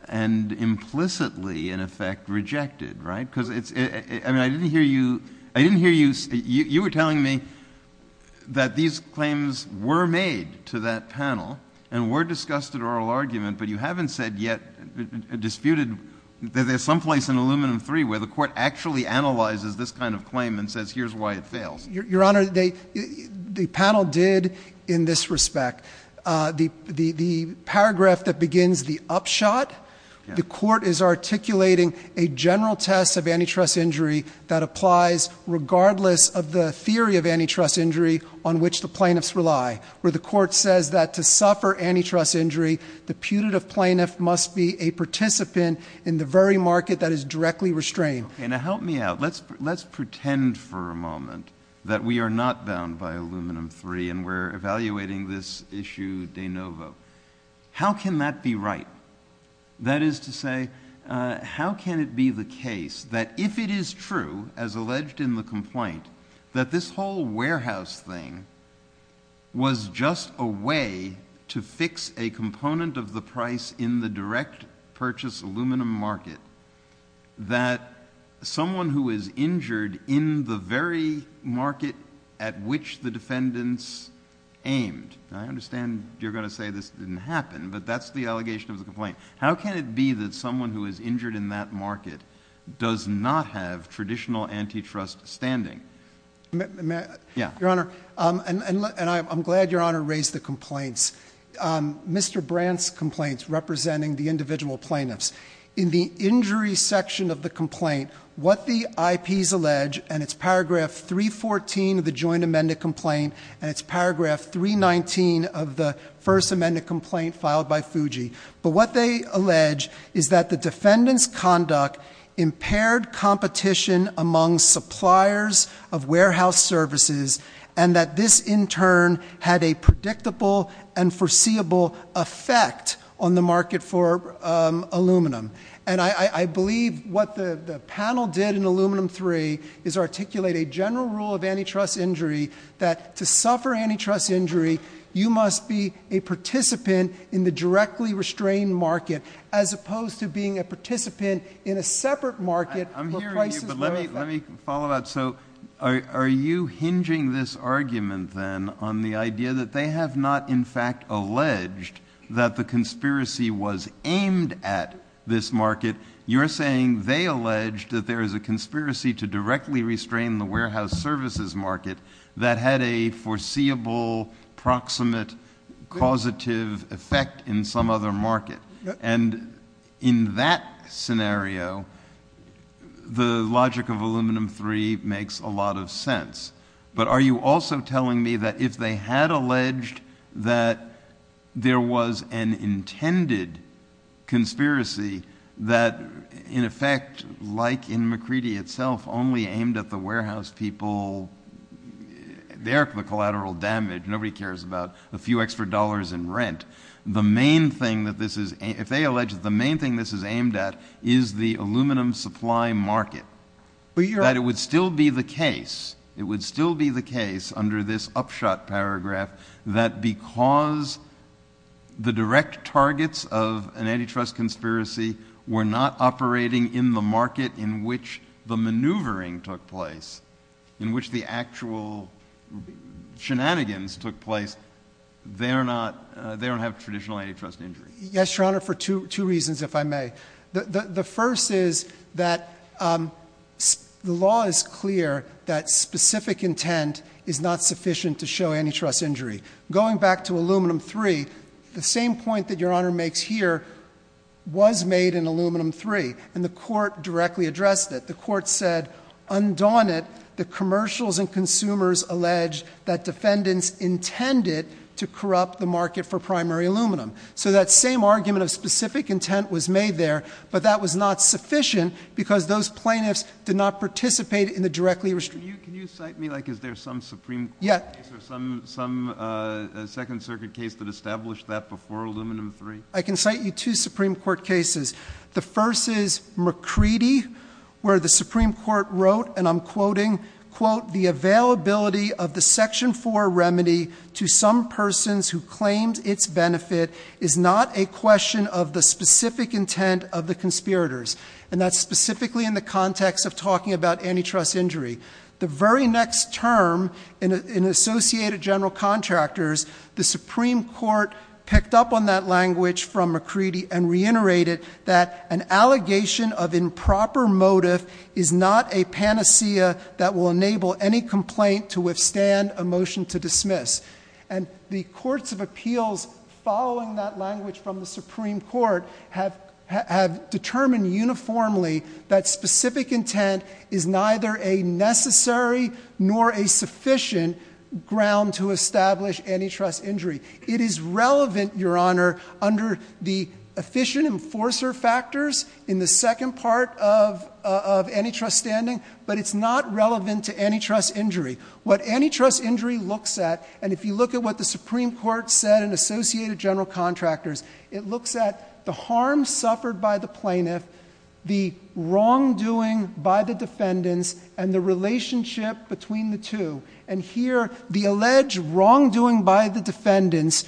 and implicitly, in effect, rejected, right? Because, I mean, I didn't hear you. I didn't hear you. You were telling me that these claims were made to that panel and were discussed at oral argument, but you haven't said yet, disputed, that there's some place in Aluminum III where the Court actually analyzes this kind of claim and says, here's why it fails. Your Honor, the panel did in this respect. The paragraph that begins the upshot, the Court is articulating a general test of antitrust injury that applies regardless of the theory of antitrust injury on which the plaintiffs rely, where the Court says that to suffer antitrust injury, the putative plaintiff must be a participant in the very market that is directly restrained. Okay. Now help me out. Let's pretend for a moment that we are not bound by Aluminum III and we're evaluating this issue de novo. How can that be right? That is to say, how can it be the case that if it is true, as alleged in the complaint, that this whole warehouse thing was just a way to fix a component of the price in the direct purchase aluminum market, that someone who is injured in the very market at which the defendants aimed. I understand you're going to say this didn't happen, but that's the point. How can it be that someone who is injured in that market does not have traditional antitrust standing? Your Honor, and I'm glad Your Honor raised the complaints, Mr. Brandt's complaints representing the individual plaintiffs. In the injury section of the complaint, what the IPs allege, and it's paragraph 314 of the joint amended complaint, and it's paragraph 319 of the first amended complaint filed by Fuji, but what they allege is that the defendant's conduct impaired competition among suppliers of warehouse services and that this in turn had a predictable and foreseeable effect on the market for aluminum. And I believe what the panel did in Aluminum III is articulate a general rule of antitrust injury that to suffer antitrust injury, you must be a participant in the directly restrained market as opposed to being a participant in a separate market. I'm hearing you, but let me follow up. So are you hinging this argument then on the idea that they have not in fact alleged that the conspiracy was aimed at this market? You're saying they alleged that there is a conspiracy to directly restrain the warehouse services market that had a foreseeable, proximate, causative effect in some other market. And in that scenario, the logic of Aluminum III makes a lot of sense. But are you also telling me that if they had alleged that there was an intended conspiracy that in effect, like in McCready itself, only aimed at the warehouse people, they're the collateral damage. Nobody cares about a few extra dollars in rent. If they allege that the main thing this is aimed at is the aluminum supply market, that it would still be the case under this upshot paragraph that because the direct targets of an antitrust conspiracy were not operating in the market in which the maneuvering took place, in which the actual shenanigans took place, they don't have traditional antitrust injury. Yes, Your Honor, for two reasons, if I may. The first is that the law is clear that specific intent is not sufficient to show antitrust injury. Going back to Aluminum III, the same point that Your Honor makes here was made in Aluminum III, and the court directly addressed it. The court said, undaunted, the commercials and consumers allege that defendants intended to corrupt the market for primary aluminum. So that same argument of specific intent was made there, but that was not sufficient because those plaintiffs did not participate in the directly- Can you cite me, like, is there some Supreme Court case or some Second Circuit case that established that before Aluminum III? I can cite you two Supreme Court cases. The first is McCready, where the Supreme Court wrote, and I'm quoting, quote, the availability of the Section 4 remedy to some persons who claimed its benefit is not a question of the specific intent of the conspirators. And that's specifically in the context of talking about antitrust injury. The very next term, in Associated General Contractors, the Supreme Court picked up on that language from McCready and reiterated that an allegation of improper motive is not a panacea that will enable any complaint to withstand a motion to dismiss. And the courts of appeals, following that language from the Supreme Court, have determined uniformly that specific intent is neither a necessary nor a sufficient ground to establish antitrust injury. It is relevant, Your Honor, under the efficient enforcer factors in the second part of antitrust standing, but it's not relevant to antitrust injury. What antitrust injury looks at, and if you look at what the Supreme Court said in Associated General Contractors, it looks at the harm suffered by the plaintiff, the wrongdoing by the defendants, and the relationship between the two. And here, the alleged wrongdoing by the defendants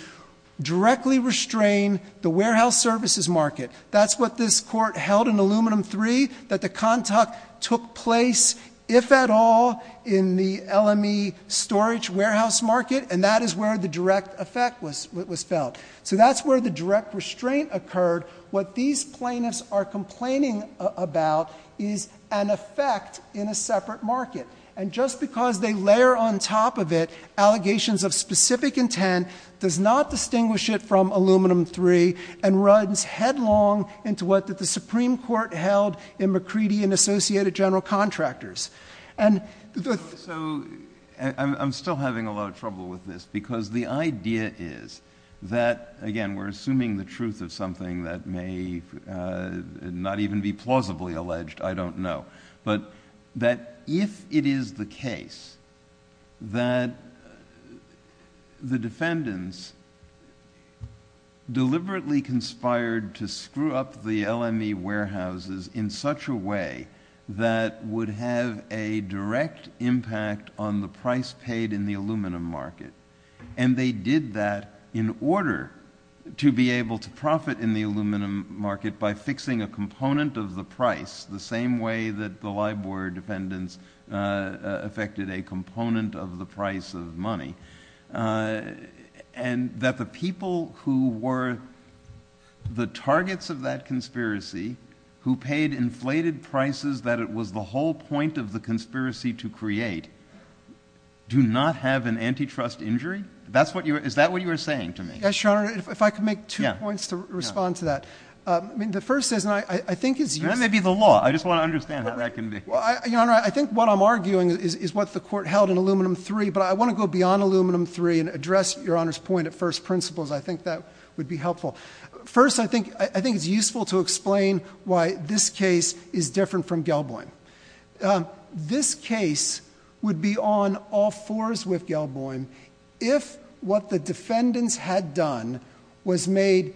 directly restrained the warehouse services market. That's what this Court held in Aluminum 3, that the contact took place, if at all, in the LME storage warehouse market, and that is where the direct effect was felt. So that's where the direct restraint occurred. What these plaintiffs are complaining about is an effect in a separate market. And just because they layer on top of it allegations of specific intent does not distinguish it from Aluminum 3 and runs headlong into what the Supreme Court held in McCready and Associated General Contractors. So I'm still having a lot of trouble with this, because the idea is that, again, we're assuming the truth of something that may not even be plausibly alleged, I don't know, but that if it is the case that the defendants deliberately conspired to screw up the LME warehouses in such a way that would have a direct impact on the price paid in the aluminum market, and they did that in order to be able to profit in the aluminum market by fixing a component of the price, the same way that the LIBOR defendants affected a component of the price of money, and that the people who were the targets of that conspiracy, who paid inflated prices that it was the whole point of the conspiracy to create, do not have an antitrust injury? Is that what you are saying to me? Yes, Your Honor. If I could make two points to respond to that. The first is, and I think it's you. That may be the law. I just want to understand how that can be. Your Honor, I think what I'm arguing is what the Court held in Aluminum 3, but I want to go beyond Aluminum 3 and address Your Honor's point at first principles. I think that would be helpful. First, I think it's useful to explain why this case is different from Gelboim. This case would be on all fours with Gelboim if what the defendants had done was made,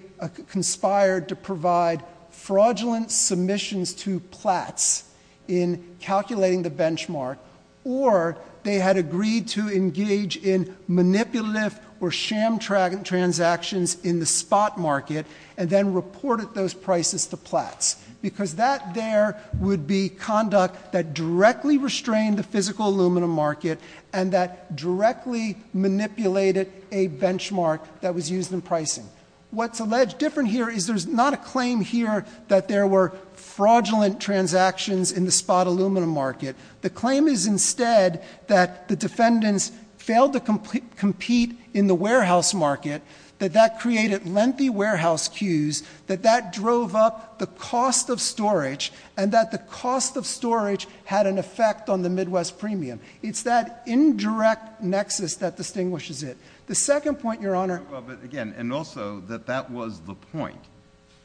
conspired to provide fraudulent submissions to Platts in calculating the benchmark, or they had agreed to engage in manipulative or sham transactions in the spot market and then reported those prices to Platts. Because that there would be conduct that directly restrained the physical aluminum market and that directly manipulated a benchmark that was used in pricing. What's alleged different here is there's not a claim here that there were fraudulent transactions in the spot aluminum market. The claim is instead that the defendants failed to compete in the warehouse market, that that created lengthy warehouse queues, that that drove up the cost of storage, and that the cost of storage had an effect on the Midwest premium. It's that indirect nexus that distinguishes it. The second point, Your Honor — Well, but again, and also that that was the point.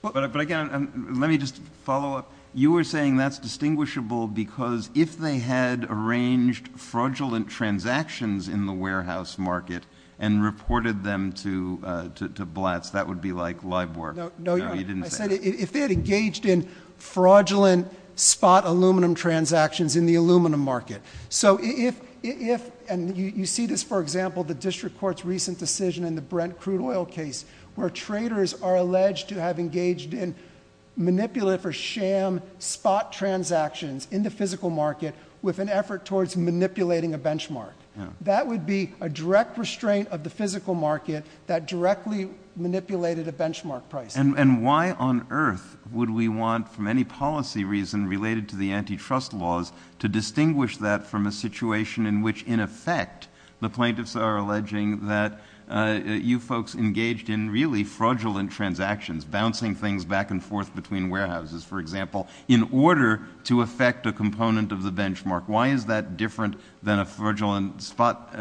But again, let me just follow up. You were saying that's distinguishable because if they had arranged fraudulent transactions in the warehouse market and reported them to Platts, that would be like live work. No, Your Honor. I said if they had engaged in fraudulent spot aluminum transactions in the aluminum market. So if — and you see this, for example, the district court's recent decision in the Brent crude oil case, where traders are alleged to have engaged in manipulative or sham spot transactions in the physical market with an effort towards manipulating a benchmark. That would be a direct restraint of the physical market that directly manipulated a benchmark price. And why on earth would we want, for any policy reason related to the antitrust laws, to distinguish that from a situation in which, in effect, the plaintiffs are alleging that you folks engaged in really fraudulent transactions, bouncing things back and forth between warehouses, for example, in order to affect a component of the benchmark? Why is that different than a fraudulent spot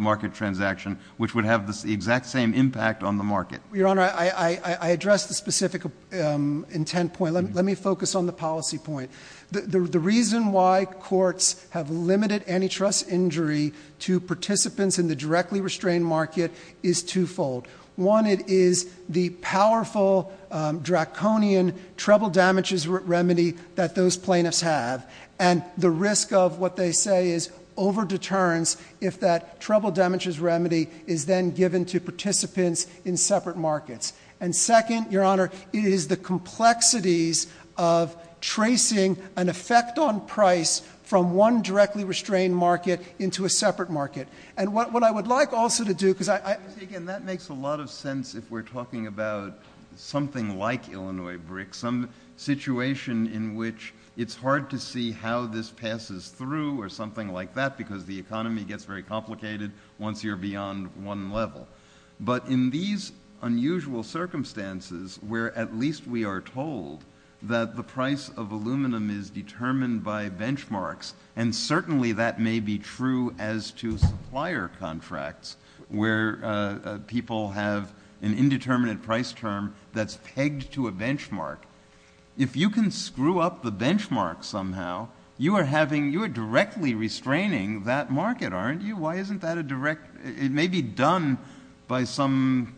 market transaction, which would have the exact same impact on the market? Your Honor, I address the specific intent point. Let me focus on the policy point. The reason why courts have limited antitrust injury to participants in the directly restrained market is twofold. One, it is the powerful draconian treble damages remedy that those plaintiffs have. And the risk of what they say is over-deterrence if that treble damages remedy is then given to participants in separate markets. And second, Your Honor, it is the complexities of tracing an effect on price from one directly restrained market into a separate market. And what I would like also to do, because I— Again, that makes a lot of sense if we're talking about something like Illinois BRIC, some situation in which it's hard to see how this passes through or something like that, because the economy gets very complicated once you're beyond one level. But in these unusual circumstances where at least we are told that the price of aluminum is determined by benchmarks, and certainly that may be true as to supplier contracts where people have an indeterminate price term that's pegged to a benchmark, if you can screw up the benchmark somehow, you are directly restraining that market, aren't you? Why isn't that a direct—it may be done by some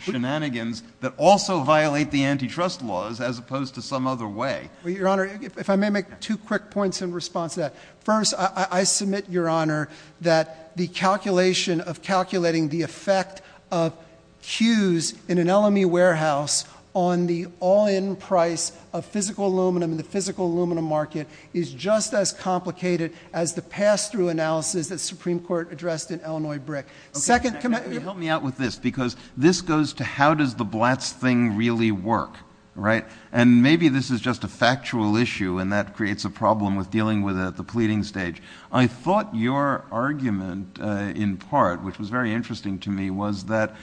shenanigans that also violate the antitrust laws as opposed to some other way. Your Honor, if I may make two quick points in response to that. First, I submit, Your Honor, that the calculation of calculating the effect of cues in an LME warehouse on the all-in price of physical aluminum in the physical aluminum market is just as complicated as the pass-through analysis that the Supreme Court addressed in Illinois BRIC. Second— Can you help me out with this? Because this goes to how does the BLATS thing really work, right? And maybe this is just a factual issue and that creates a problem with dealing with it at the pleading stage. I thought your argument, in part, which was very interesting to me, was that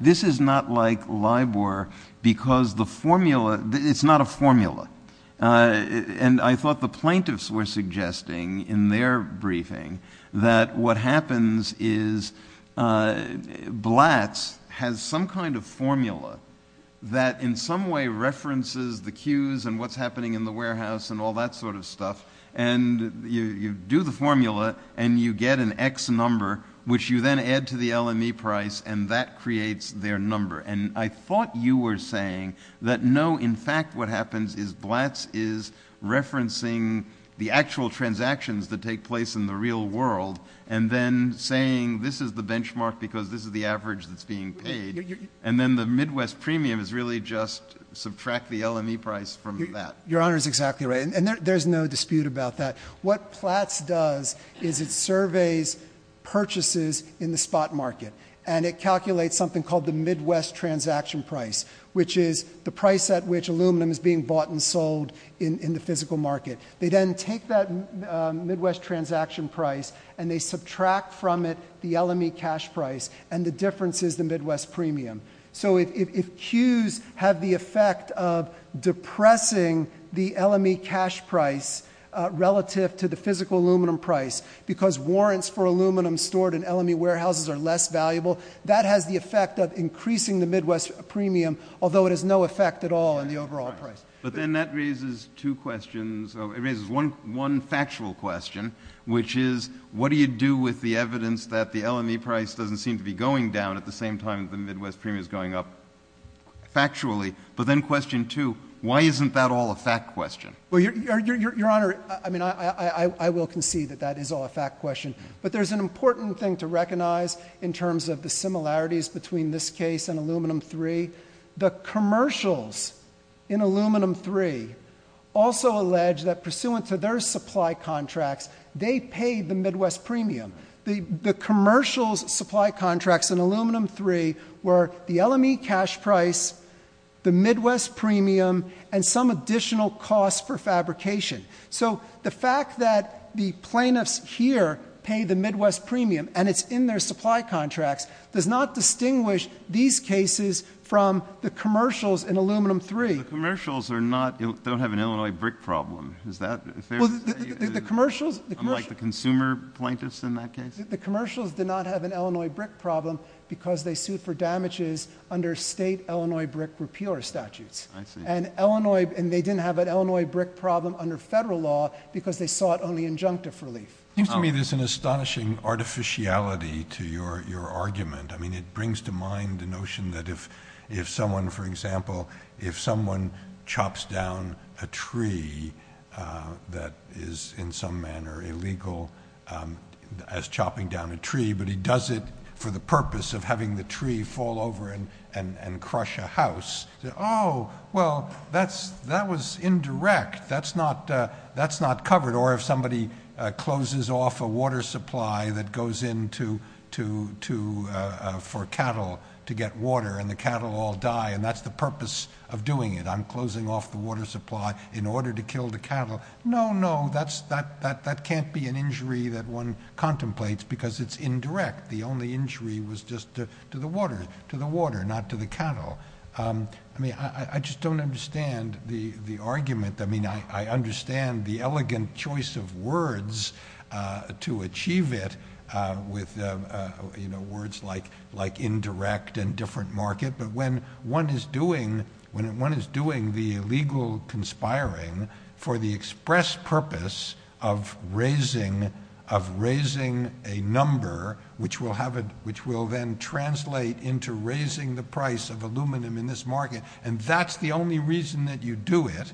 this is not like LIBOR because the formula—it's not a formula. And I thought the plaintiffs were suggesting in their briefing that what happens is BLATS has some kind of formula that in some way references the cues and what's happening in the warehouse and all that sort of stuff, and you do the formula and you get an X number, which you then add to the LME price, and that creates their number. And I thought you were saying that, no, in fact what happens is BLATS is referencing the actual transactions that take place in the real world and then saying this is the benchmark because this is the average that's being paid, and then the Midwest premium is really just subtract the LME price from that. Your Honor is exactly right, and there's no dispute about that. What BLATS does is it surveys purchases in the spot market, and it calculates something called the Midwest transaction price, which is the price at which aluminum is being bought and sold in the physical market. They then take that Midwest transaction price and they subtract from it the LME cash price, and the difference is the Midwest premium. So if cues have the effect of depressing the LME cash price relative to the physical aluminum price because warrants for aluminum stored in LME warehouses are less valuable, that has the effect of increasing the Midwest premium, although it has no effect at all on the overall price. But then that raises two questions. It raises one factual question, which is what do you do with the evidence that the LME price doesn't seem to be going down at the same time as the Midwest premium is going up factually? But then question two, why isn't that all a fact question? Well, Your Honor, I mean, I will concede that that is all a fact question, but there's an important thing to recognize in terms of the similarities between this case and Aluminum III. The commercials in Aluminum III also allege that pursuant to their supply contracts, they paid the Midwest premium. The commercials supply contracts in Aluminum III were the LME cash price, the Midwest premium, and some additional cost for fabrication. So the fact that the plaintiffs here pay the Midwest premium and it's in their supply contracts does not distinguish these cases from the commercials in Aluminum III. The commercials don't have an Illinois brick problem. Unlike the consumer plaintiffs in that case? The commercials did not have an Illinois brick problem because they sued for damages under state Illinois brick repeal statutes. And they didn't have an Illinois brick problem under federal law because they sought only injunctive relief. It seems to me there's an astonishing artificiality to your argument. I mean, it brings to mind the notion that if someone, for example, if someone chops down a tree that is in some manner illegal as chopping down a tree, but he does it for the purpose of having the tree fall over and crush a house. Oh, well, that was indirect. That's not covered. Or if somebody closes off a water supply that goes in for cattle to get water and the cattle all die, and that's the purpose of doing it. I'm closing off the water supply in order to kill the cattle. No, no, that can't be an injury that one contemplates because it's indirect. The only injury was just to the water, not to the cattle. I mean, I just don't understand the argument. I mean, I understand the elegant choice of words to achieve it with, you know, words like indirect and different market. But when one is doing the illegal conspiring for the express purpose of raising a number, which will then translate into raising the price of aluminum in this market, and that's the only reason that you do it.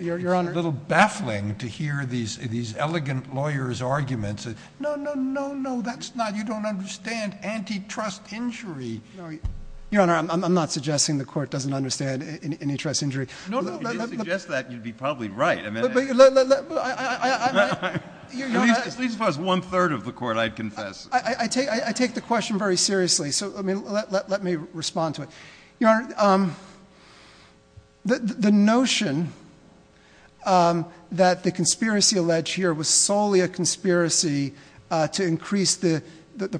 You're on a little baffling to hear these elegant lawyers' arguments. No, no, no, no, that's not. You don't understand antitrust injury. Your Honor, I'm not suggesting the court doesn't understand antitrust injury. No, no, no. If you suggest that, you'd be probably right. I mean, at least as far as one-third of the court, I'd confess. I take the question very seriously. So let me respond to it. Your Honor, the notion that the conspiracy alleged here was solely a conspiracy to increase the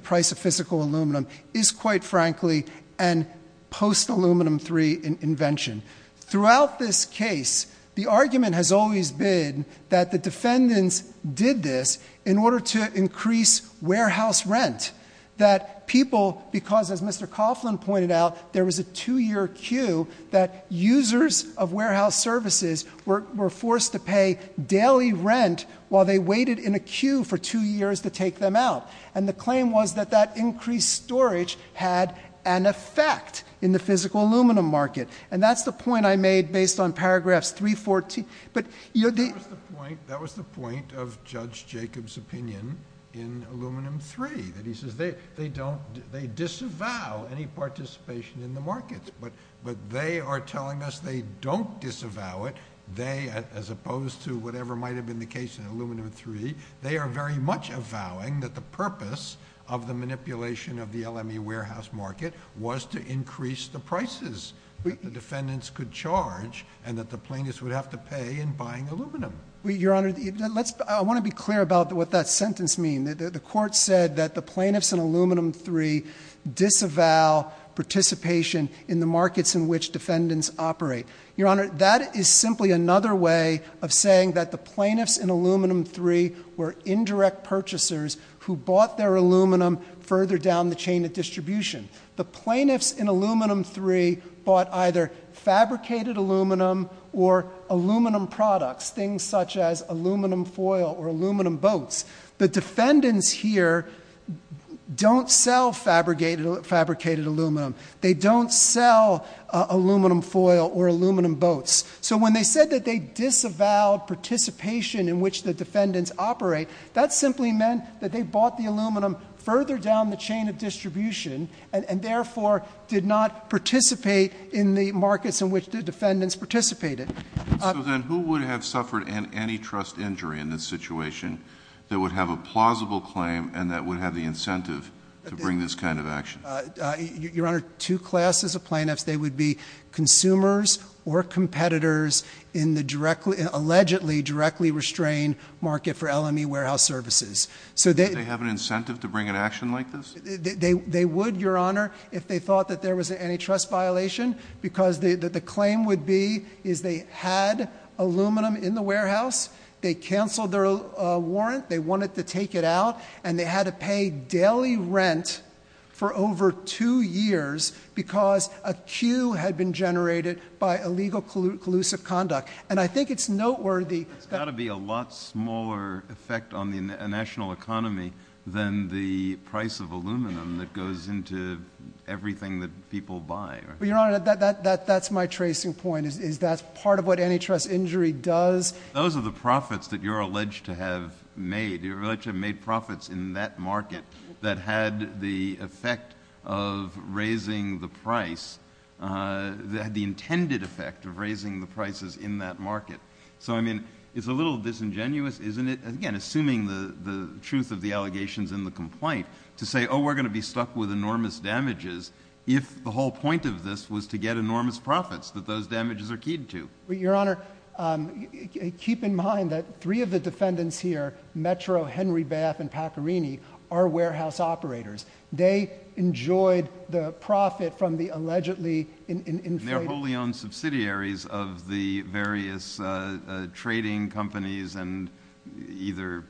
price of physical aluminum is, quite frankly, a post-aluminum III invention. Throughout this case, the argument has always been that the defendants did this in order to increase warehouse rent, that people, because as Mr. Coughlin pointed out, there was a two-year queue, that users of warehouse services were forced to pay daily rent while they waited in a queue for two years to take them out. And the claim was that that increased storage had an effect in the physical aluminum market. And that's the point I made based on paragraph 314. That was the point of Judge Jacob's opinion in Aluminum III. He says they disavow any participation in the market. But they are telling us they don't disavow it. They, as opposed to whatever might have been the case in Aluminum III, they are very much avowing that the purpose of the manipulation of the LME warehouse market was to increase the prices. The defendants could charge and that the plaintiffs would have to pay in buying aluminum. Your Honor, I want to be clear about what that sentence means. The court said that the plaintiffs in Aluminum III disavow participation in the markets in which defendants operate. Your Honor, that is simply another way of saying that the plaintiffs in Aluminum III were indirect purchasers who bought their aluminum further down the chain of distribution. The plaintiffs in Aluminum III bought either fabricated aluminum or aluminum products, things such as aluminum foil or aluminum boats. The defendants here don't sell fabricated aluminum. They don't sell aluminum foil or aluminum boats. So when they said that they disavowed participation in which the defendants operate, that simply meant that they bought the aluminum further down the chain of distribution and therefore did not participate in the markets in which the defendants participated. So then who would have suffered antitrust injury in this situation that would have a plausible claim and that would have the incentive to bring this kind of action? Your Honor, two classes of plaintiffs. They would be consumers or competitors in the allegedly directly restrained market for LME warehouse services. Would they have an incentive to bring an action like this? They would, Your Honor, if they thought that there was an antitrust violation because the claim would be is they had aluminum in the warehouse. They canceled their warrant. They wanted to take it out and they had to pay daily rent for over two years because a queue had been generated by illegal collusive conduct. And I think it's noteworthy. There ought to be a lot smaller effect on the national economy than the price of aluminum that goes into everything that people buy. Your Honor, that's my tracing point. That's part of what antitrust injury does. Those are the profits that you're alleged to have made. You're alleged to have made profits in that market that had the effect of raising the price, the intended effect of raising the prices in that market. So, I mean, it's a little disingenuous, isn't it? Again, assuming the truth of the allegations in the complaint to say, oh, we're going to be stuck with enormous damages if the whole point of this was to get enormous profits that those damages are keyed to. Your Honor, keep in mind that three of the defendants here, Metro, Henry Bath, and Pecorini, are warehouse operators. They enjoyed the profit from the allegedly inflated- They're wholly owned subsidiaries of the various trading companies and either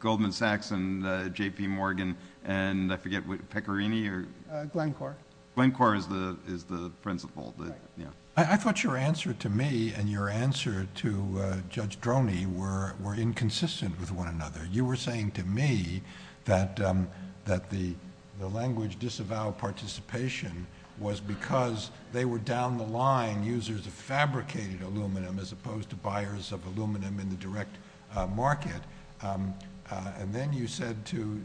Goldman Sachs and J.P. Morgan and I forget, Pecorini or- Glencore. Glencore is the principal. I thought your answer to me and your answer to Judge Droney were inconsistent with one another. You were saying to me that the language disavowed participation was because they were down the line users of fabricated aluminum as opposed to buyers of aluminum in the direct market. And then you said to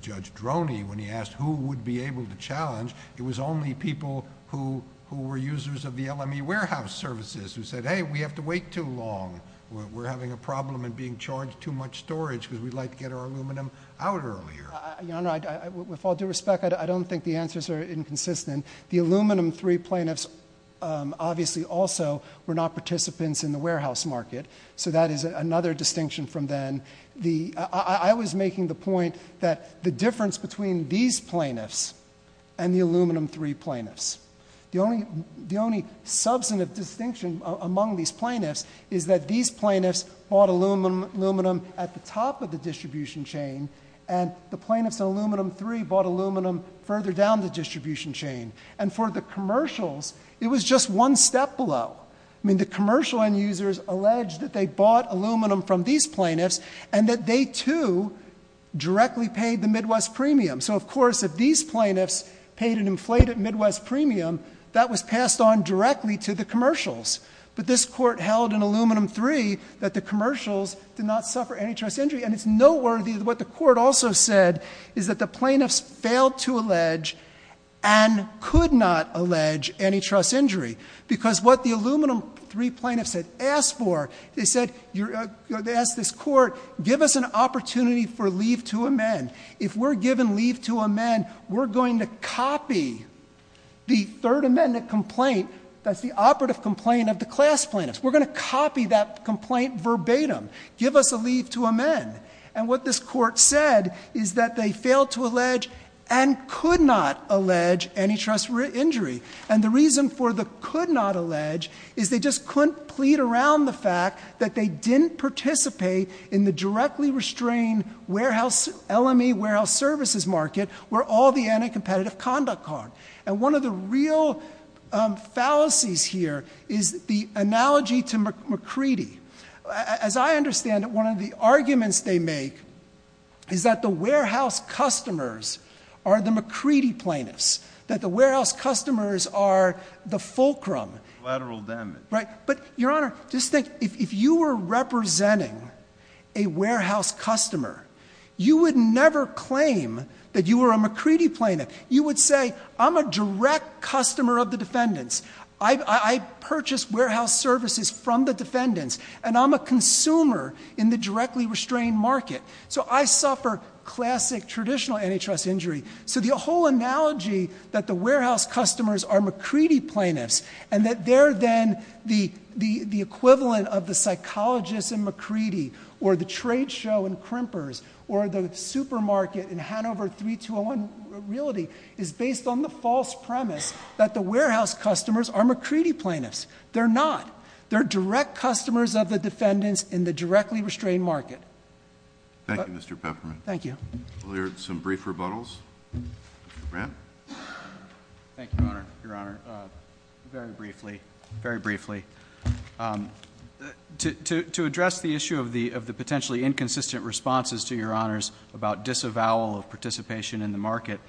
Judge Droney, when he asked who would be able to challenge, it was only people who were users of the LME warehouse services who said, hey, we have to wait too long. We're having a problem in being charged too much storage because we'd like to get our aluminum out earlier. Your Honor, with all due respect, I don't think the answers are inconsistent. The aluminum three plaintiffs obviously also were not participants in the warehouse market, so that is another distinction from then. I was making the point that the difference between these plaintiffs and the aluminum three plaintiffs. The only substantive distinction among these plaintiffs is that these plaintiffs bought aluminum at the top of the distribution chain and the plaintiffs in aluminum three bought aluminum further down the distribution chain. And for the commercials, it was just one step below. I mean, the commercial end users alleged that they bought aluminum from these plaintiffs and that they too directly paid the Midwest premium. So, of course, if these plaintiffs paid an inflated Midwest premium, that was passed on directly to the commercials. But this court held in aluminum three that the commercials did not suffer antitrust injury. And it's noteworthy what the court also said is that the plaintiffs failed to allege and could not allege antitrust injury because what the aluminum three plaintiffs had asked for, they asked this court, give us an opportunity for leave to amend. If we're given leave to amend, we're going to copy the third amendment complaint, that's the operative complaint of the class plaintiffs. We're going to copy that complaint verbatim. Give us a leave to amend. And what this court said is that they failed to allege and could not allege antitrust injury. And the reason for the could not allege is they just couldn't plead around the fact that they didn't participate in the directly restrained LME warehouse services market where all the anti-competitive conduct occurred. And one of the real fallacies here is the analogy to McCready. As I understand it, one of the arguments they make is that the warehouse customers are the McCready plaintiffs, that the warehouse customers are the fulcrum. But, Your Honor, just think, if you were representing a warehouse customer, you would never claim that you were a McCready plaintiff. You would say, I'm a direct customer of the defendants. I purchase warehouse services from the defendants, and I'm a consumer in the directly restrained market. So I suffer classic traditional antitrust injury. So the whole analogy that the warehouse customers are McCready plaintiffs and that they're then the equivalent of the psychologists in McCready or the trade show in Krimper's or the supermarket in Hanover 3201 Realty is based on the false premise that the warehouse customers are McCready plaintiffs. They're not. They're direct customers of the defendants in the directly restrained market. Thank you, Mr. Peppermint. Thank you. We'll hear some brief rebuttals. Mr. Brandt. Thank you, Your Honor, very briefly. To address the issue of the potentially inconsistent responses to Your Honors about disavowal of participation in the market,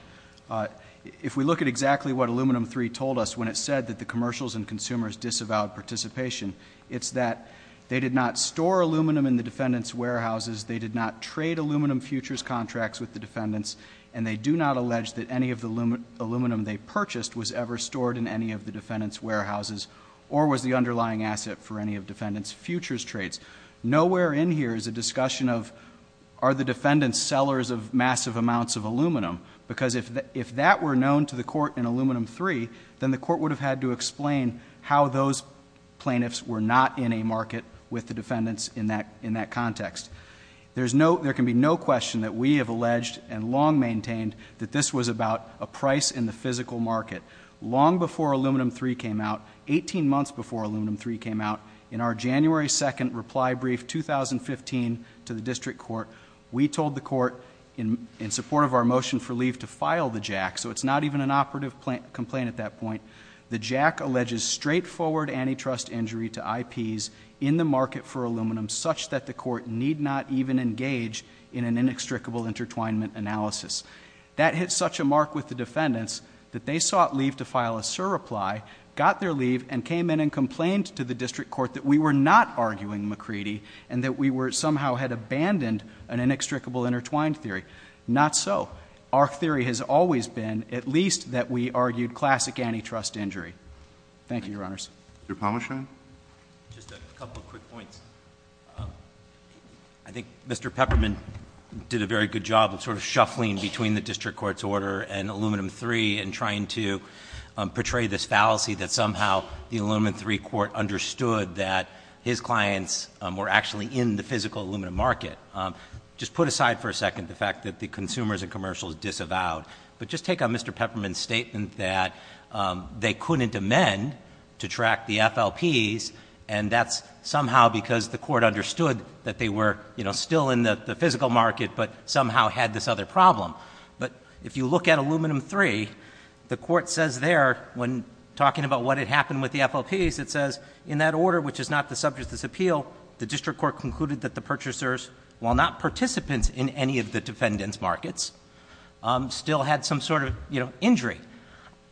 if we look at exactly what Aluminum 3 told us when it said that the commercials and consumers disavowed participation, it's that they did not store aluminum in the defendants' warehouses, they did not trade aluminum futures contracts with the defendants, and they do not allege that any of the aluminum they purchased was ever stored in any of the defendants' warehouses or was the underlying asset for any of the defendants' futures trades. Nowhere in here is a discussion of are the defendants sellers of massive amounts of aluminum, because if that were known to the court in Aluminum 3, then the court would have had to explain how those plaintiffs were not in a market with the defendants in that context. There can be no question that we have alleged and long maintained that this was about a price in the physical market. Long before Aluminum 3 came out, 18 months before Aluminum 3 came out, in our January 2 reply brief 2015 to the district court, we told the court in support of our motion for leave to file the JAC, so it's not even an operative complaint at that point, the JAC alleges straightforward antitrust injury to IPs in the market for aluminum such that the court need not even engage in an inextricable intertwinement analysis. That hit such a mark with the defendants that they sought leave to file a SIR reply, got their leave, and came in and complained to the district court that we were not arguing McCready and that we somehow had abandoned an inextricable intertwined theory. Not so. Our theory has always been at least that we argued classic antitrust injury. Thank you, Your Honors. Mr. Palmeshian. Just a couple of quick points. I think Mr. Pepperman did a very good job of sort of shuffling between the district court's order and Aluminum 3 and trying to portray this fallacy that somehow the Aluminum 3 court understood that his clients were actually in the physical aluminum market. Just put aside for a second the fact that the consumers and commercials disavowed, but just take on Mr. Pepperman's statement that they couldn't amend to track the FLPs and that's somehow because the court understood that they were still in the physical market but somehow had this other problem. But if you look at Aluminum 3, the court says there when talking about what had happened with the FLPs, it says in that order, which is not the subject of this appeal, the district court concluded that the purchasers, while not participants in any of the defendant's markets, still had some sort of injury.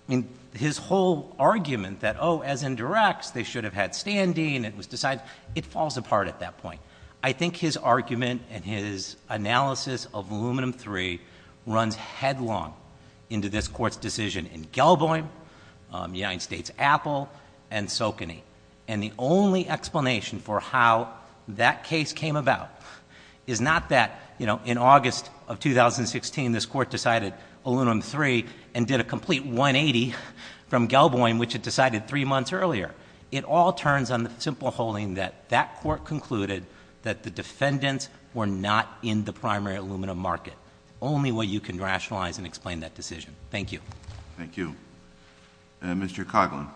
I mean, his whole argument that, oh, as in directs, they should have had standing, it was decided, it falls apart at that point. I think his argument and his analysis of Aluminum 3 runs headlong into this court's decision in Gelboyne, United States Apple, and Socony. And the only explanation for how that case came about is not that, you know, in August of 2016, this court decided Aluminum 3 and did a complete 180 from Gelboyne, which it decided three months earlier. It all turns on the simple holding that that court concluded that the defendants were not in the primary aluminum market. Only way you can rationalize and explain that decision. Thank you. Thank you. Mr. Coughlin.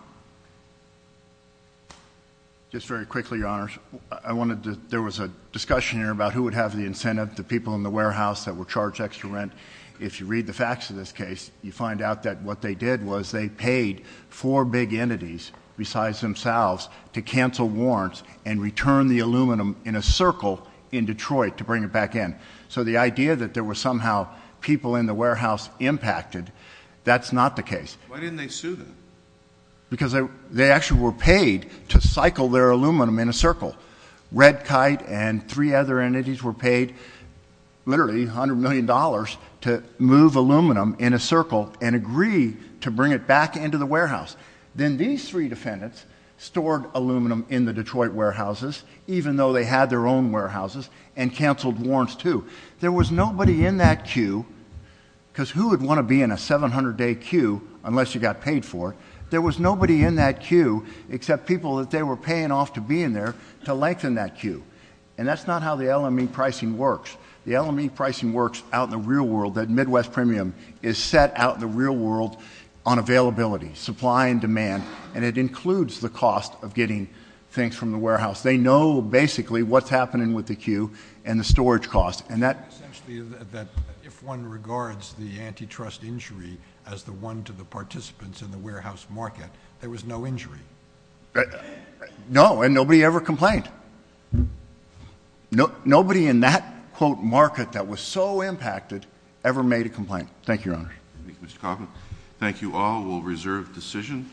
Just very quickly, Your Honors. I wanted to... There was a discussion here about who would have the incentive, the people in the warehouse that were charged extra rent. If you read the facts of this case, you find out that what they did was they paid four big entities besides themselves to cancel warrants and return the aluminum in a circle in Detroit to bring it back in. So the idea that there were somehow people in the warehouse impacted, that's not the case. Why didn't they sue them? Because they actually were paid to cycle their aluminum in a circle. Red Kite and three other entities were paid literally $100 million to move aluminum in a circle and agree to bring it back into the warehouse. Then these three defendants stored aluminum in the Detroit warehouses, even though they had their own warehouses, and canceled warrants too. There was nobody in that queue unless you got paid for it. There was nobody in that queue except people that they were paying off to be in there to lengthen that queue. And that's not how the LME pricing works. The LME pricing works out in the real world. That Midwest premium is set out in the real world on availability, supply, and demand, and it includes the cost of getting things from the warehouse. They know basically what's happening with the queue and the storage costs. And that... Essentially, if one regards the antitrust injury as the one to the participants in the warehouse market, there was no injury. No, and nobody ever complained. Nobody in that, quote, market that was so impacted ever made a complaint. Thank you, Your Honor. Thank you, Mr. Coffman. Thank you all. We'll reserve decision.